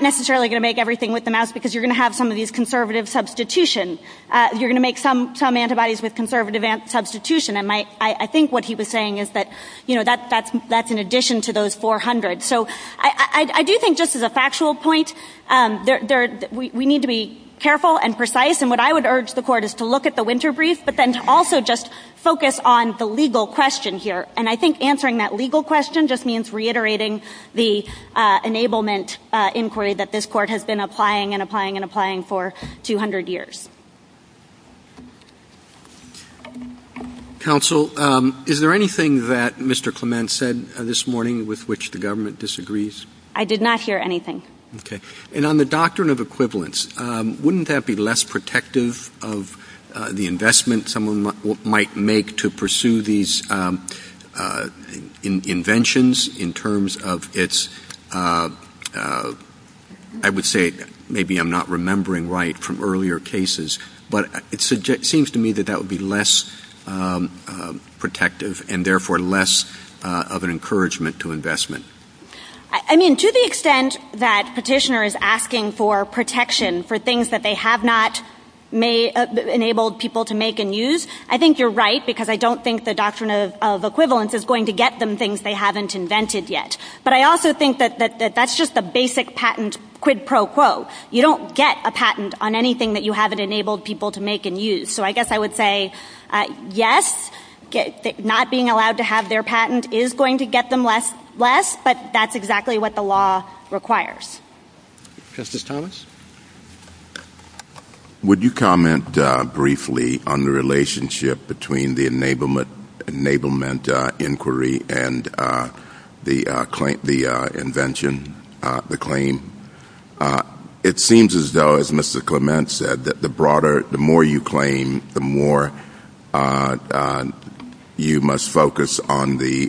necessarily going to make everything with the mouse because you're going to have some of these conservative substitution. You're going to make some antibodies with conservative substitution. And I think what he was saying is that that's an addition to those 400. So I do think, just as a factual point, we need to be careful and precise. And what I would urge the court is to look at the winter brief, but then also just focus on the legal question here. And I think answering that legal question just means reiterating the enablement inquiry that this court has been applying and applying and applying for 200 years. Counsel, is there anything that Mr. Clement said this morning with which the government disagrees? I did not hear anything. And on the doctrine of equivalence, wouldn't that be less protective of the investment someone might make to pursue these inventions in terms of its, I would say, maybe I'm not remembering right from earlier cases. But it seems to me that that would be less protective, and therefore less of an encouragement to investment. I mean, to the extent that petitioner is asking for protection for things that they have not enabled people to make and use, I think you're right, because I don't think the doctrine of equivalence is going to get them things they haven't invented yet. But I also think that that's just a basic patent quid pro quo. You don't get a patent on anything that you haven't enabled people to make and use. So I guess I would say yes, not being allowed to have their patent is going to get them less, but that's exactly what the law requires. Justice Thomas? Would you comment briefly on the relationship between the enablement inquiry and the invention, the claim? It seems as though, as Mr. Clement said, that the broader, the more you claim, the more you must focus on the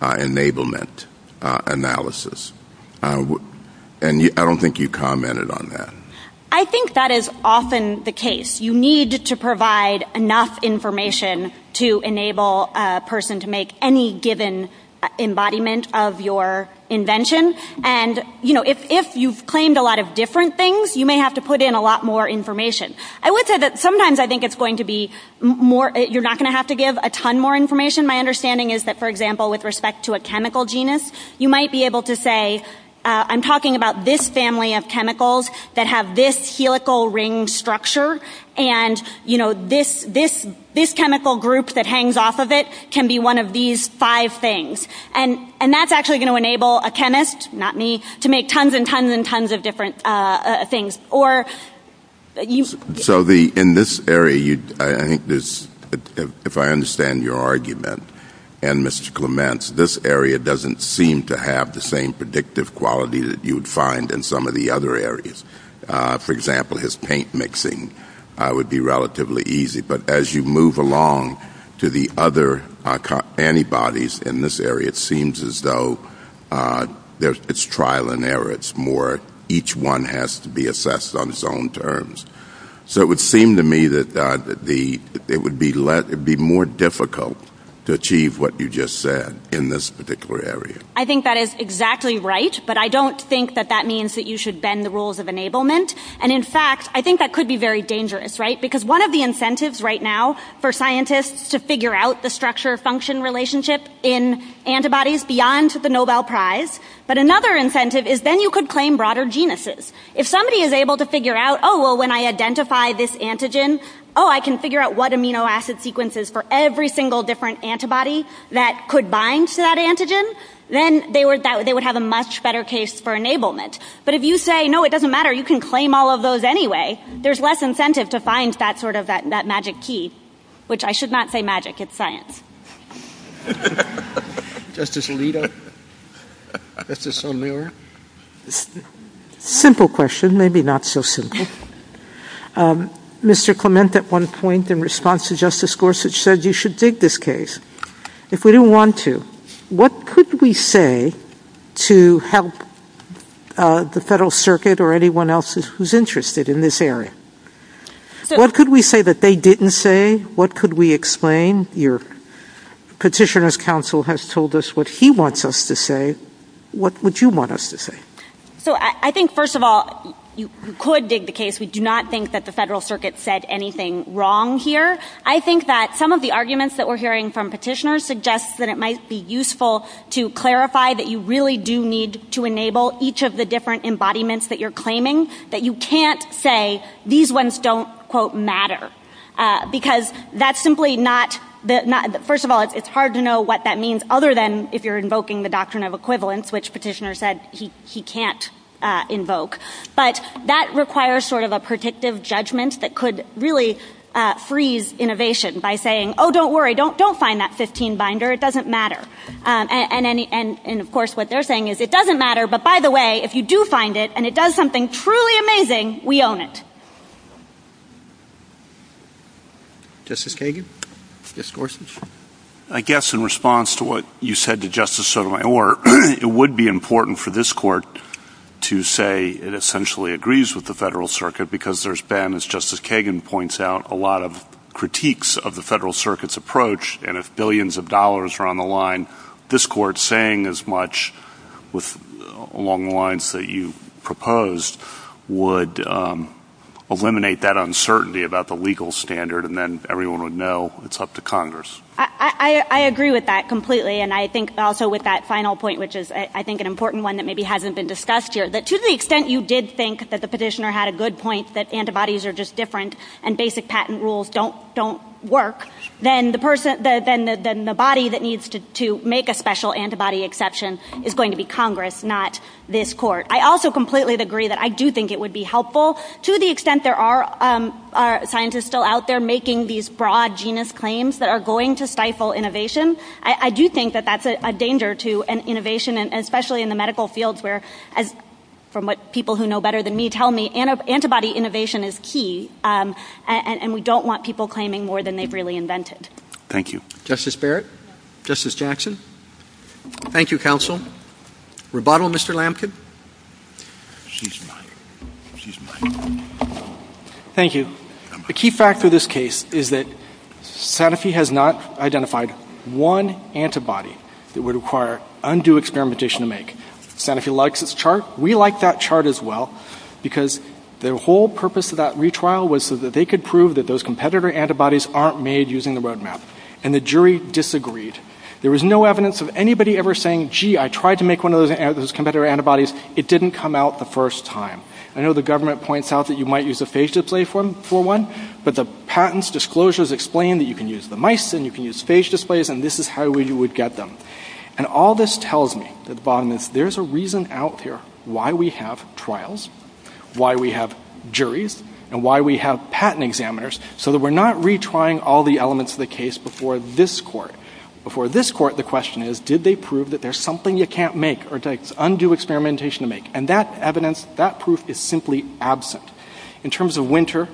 enablement analysis. And I don't think you commented on that. I think that is often the case. You need to provide enough information to enable a person to make any given embodiment of your invention. And if you've claimed a lot of different things, you may have to put in a lot more information. I would say that sometimes I think it's going to be more, you're not going to have to give a ton more information. My understanding is that, for example, with respect to a chemical genus, you might be able to say, I'm talking about this family of chemicals that have this helical ring structure, and this chemical group that hangs off of it can be one of these five things. And that's actually going to enable a chemist, not me, to make tons and tons and tons of different things. So in this area, I think this, if I understand your argument and Mr. Clement's, this area doesn't seem to have the same predictive quality that you would find in some of the other areas. For example, his paint mixing would be relatively easy. But as you move along to the other antibodies in this area, it seems as though it's trial and error. It's more each one has to be assessed on its own terms. So it would seem to me that it would be more difficult to achieve what you just said in this particular area. I think that is exactly right, but I don't think that that means that you should bend the rules of enablement. And in fact, I think that could be very dangerous, right? Because one of the incentives right now for scientists to figure out the structure-function relationship in antibodies beyond the Nobel Prize, but another incentive is then you could claim broader genuses. If somebody is able to figure out, oh, well, when I identify this antigen, oh, I can figure out what amino acid sequences for every single different antibody that could bind to that antigen, then they would have a much better case for enablement. But if you say, no, it doesn't matter. You can claim all of those anyway, there's less incentive to find that sort of magic key, which I should not say magic. It's science. Justice Alito? Justice Son-Muir? Simple question, maybe not so simple. Mr. Clement, at one point in response to Justice Gorsuch, said you should dig this case. If we don't want to, what could we say to help the Federal Circuit or anyone else who's interested in this area? What could we say that they didn't say? What could we explain? Your petitioner's counsel has told us what he wants us to say. What would you want us to say? So I think, first of all, you could dig the case. We do not think that the Federal Circuit said anything wrong here. I think that some of the arguments that we're hearing from petitioners suggests that it might be useful to clarify that you really do need to enable each of the different embodiments that you're claiming, that you can't say these ones don't, quote, matter. Because that's simply not... First of all, it's hard to know what that means other than if you're invoking the doctrine of equivalence, with which petitioner said he can't invoke. But that requires sort of a predictive judgment that could really freeze innovation by saying, oh, don't worry, don't find that 15 binder, it doesn't matter. And, of course, what they're saying is it doesn't matter, but, by the way, if you do find it, and it does something truly amazing, we own it. Justice Kagan? Justice Gorsuch? I guess in response to what you said to Justice Sotomayor, it would be important for this court to say it essentially agrees with the Federal Circuit because there's been, as Justice Kagan points out, a lot of critiques of the Federal Circuit's approach, and if billions of dollars are on the line, this court saying as much along the lines that you proposed would eliminate that uncertainty about the legal standard, and then everyone would know it's up to Congress. I agree with that completely, and I think also with that final point, which is I think an important one that maybe hasn't been discussed here, that to the extent you did think that the petitioner had a good point that antibodies are just different and basic patent rules don't work, then the body that needs to make a special antibody exception is going to be Congress, not this court. I also completely agree that I do think it would be helpful to the extent there are scientists still out there making these broad genus claims that are going to stifle innovation. I do think that that's a danger to innovation, especially in the medical field where, from what people who know better than me tell me, antibody innovation is key, and we don't want people claiming more than they've really invented. Thank you. Justice Barrett? Justice Jackson? Thank you, counsel. Rebuttal, Mr. Lamkin? Thank you. A key fact for this case is that Sanofi has not identified one antibody that would require undue experimentation to make. Sanofi likes its chart. We like that chart as well because their whole purpose of that retrial was so that they could prove that those competitor antibodies aren't made using the roadmap, and the jury disagreed. There was no evidence of anybody ever saying, gee, I tried to make one of those competitor antibodies. It didn't come out the first time. I know the government points out that you might use a phase display for one, but the patents disclosures explain that you can use the mice and you can use phase displays, and this is how we would get them. And all this tells me that there's a reason out there why we have trials, why we have juries, and why we have patent examiners, so that we're not retrying all the elements of the case before this court. Before this court, the question is, did they prove that there's something you can't make or it's undue experimentation to make? And that evidence, that proof is simply absent. In terms of Winter,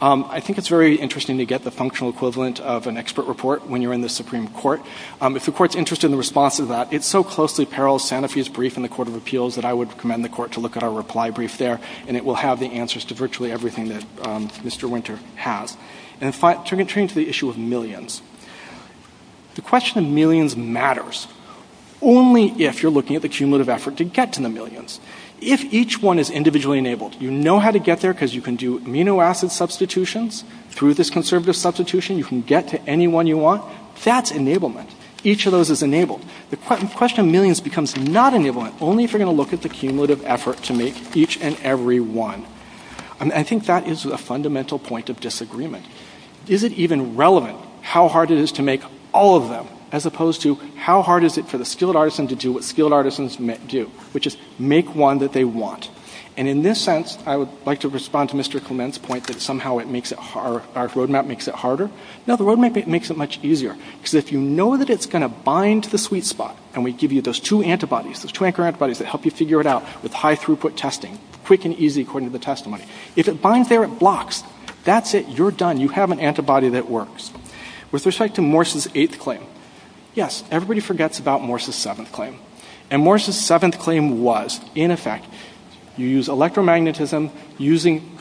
I think it's very interesting to get the functional equivalent of an expert report when you're in the Supreme Court. If the court's interested in the response to that, it's so closely parallel to Sanofi's brief in the Court of Appeals that I would recommend the court to look at our reply brief there, and it will have the answers to virtually everything that Mr. Winter has. And in fact, turning to the issue of millions, the question of millions matters only if you're looking at the cumulative effort to get to the millions. If each one is individually enabled, you know how to get there because you can do amino acid substitutions through this conservative substitution. You can get to any one you want. That's enablement. Each of those is enabled. The question of millions becomes not enablement only if you're going to look at the cumulative effort to make each and every one. And I think that is a fundamental point of disagreement. Is it even relevant how hard it is to make all of them as opposed to how hard is it for the skilled artisan to do what skilled artisans do, which is make one that they want? And in this sense, I would like to respond to Mr. Clement's point that somehow our roadmap makes it harder. No, the roadmap makes it much easier because if you know that it's going to bind the sweet spot, and we give you those two antibodies, those two antibodies that help you figure it out with high-throughput testing, quick and easy according to the testimony. If it binds there, it blocks. That's it. You're done. You have an antibody that works. With respect to Morse's eighth claim, yes, everybody forgets about Morse's seventh claim. And Morse's seventh claim was, in effect, you use electromagnetism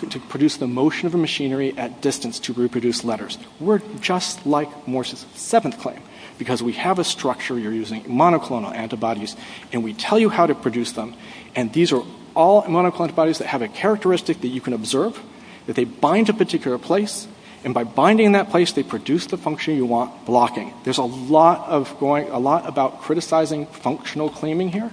to produce the motion of a machinery at distance to reproduce letters. We're just like Morse's seventh claim because we have a structure. You're using monoclonal antibodies, and we tell you how to produce them, and these are all monoclonal antibodies that have a characteristic that you can observe that they bind to a particular place, and by binding that place, they produce the function you want, blocking. There's a lot about criticizing functional claiming here,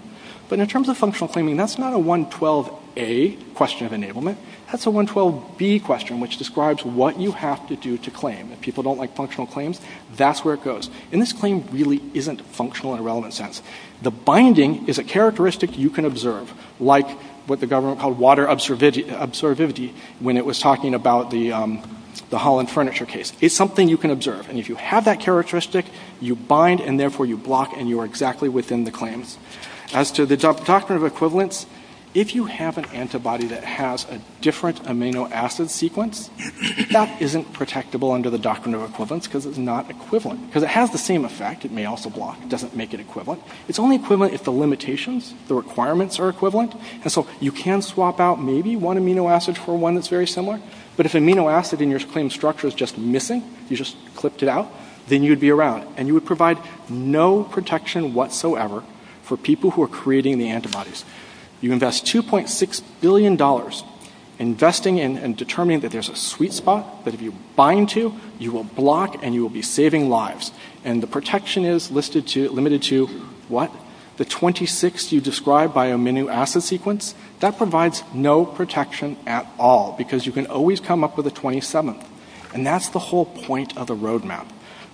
but in terms of functional claiming, that's not a 112A question of enablement. That's a 112B question, which describes what you have to do to claim. If people don't like functional claims, that's where it goes. And this claim really isn't functional in a relevant sense. The binding is a characteristic you can observe, like what the government called water observivity when it was talking about the Holland furniture case. It's something you can observe, and if you have that characteristic, you bind, and therefore you block, and you are exactly within the claim. As to the doctrine of equivalence, if you have an antibody that has a different amino acid sequence, that isn't protectable under the doctrine of equivalence because it's not equivalent. It has the same effect. It may also block. It doesn't make it equivalent. It's only equivalent if the limitations, the requirements are equivalent, and so you can swap out maybe one amino acid for one that's very similar, but if the amino acid in your claim structure is just missing, you just clipped it out, then you'd be around, and you would provide no protection whatsoever for people who are creating the antibodies. You invest $2.6 billion investing in and determining that there's a sweet spot, but if you bind to, you will block, and you will be saving lives, and the protection is limited to what? The 26 you described by amino acid sequence? That provides no protection at all because you can always come up with a 27, and that's the whole point of a roadmap.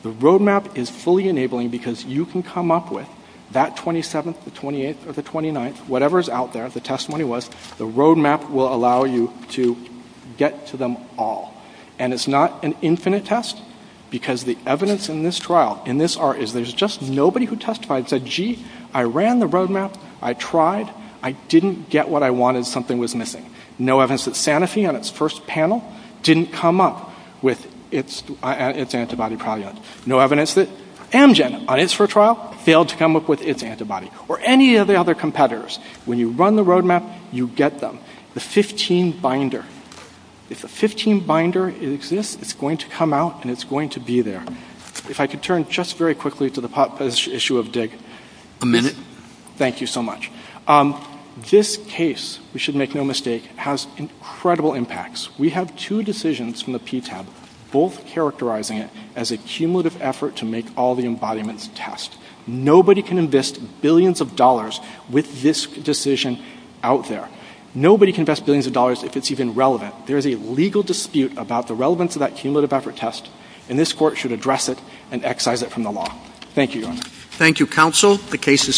The roadmap is fully enabling because you can come up with that 27th, the 28th, or the 29th, whatever's out there, the testimony was, the roadmap will allow you to get to them all, and it's not an infinite test because the evidence in this trial, in this art, is there's just nobody who testified, said, gee, I ran the roadmap. I tried. I didn't get what I wanted. Something was missing. No evidence that Sanofi, on its first panel, didn't come up with its antibody product. No evidence that Amgen, on its first trial, failed to come up with its antibody, or any of the other competitors. When you run the roadmap, you get them. The 15 binder. If the 15 binder exists, it's going to come out, and it's going to be there. If I could turn just very quickly to the pop quiz issue of DIG. A minute. Thank you so much. This case, we should make no mistake, has incredible impacts. We have two decisions from the PTAB, both characterizing it as a cumulative effort to make all the embodiments test. Nobody can invest billions of dollars with this decision out there. Nobody can invest billions of dollars if it's even relevant. There's a legal dispute about the relevance of that cumulative effort test, and this court should address it and excise it from the law. Thank you. Thank you, counsel. The case is submitted.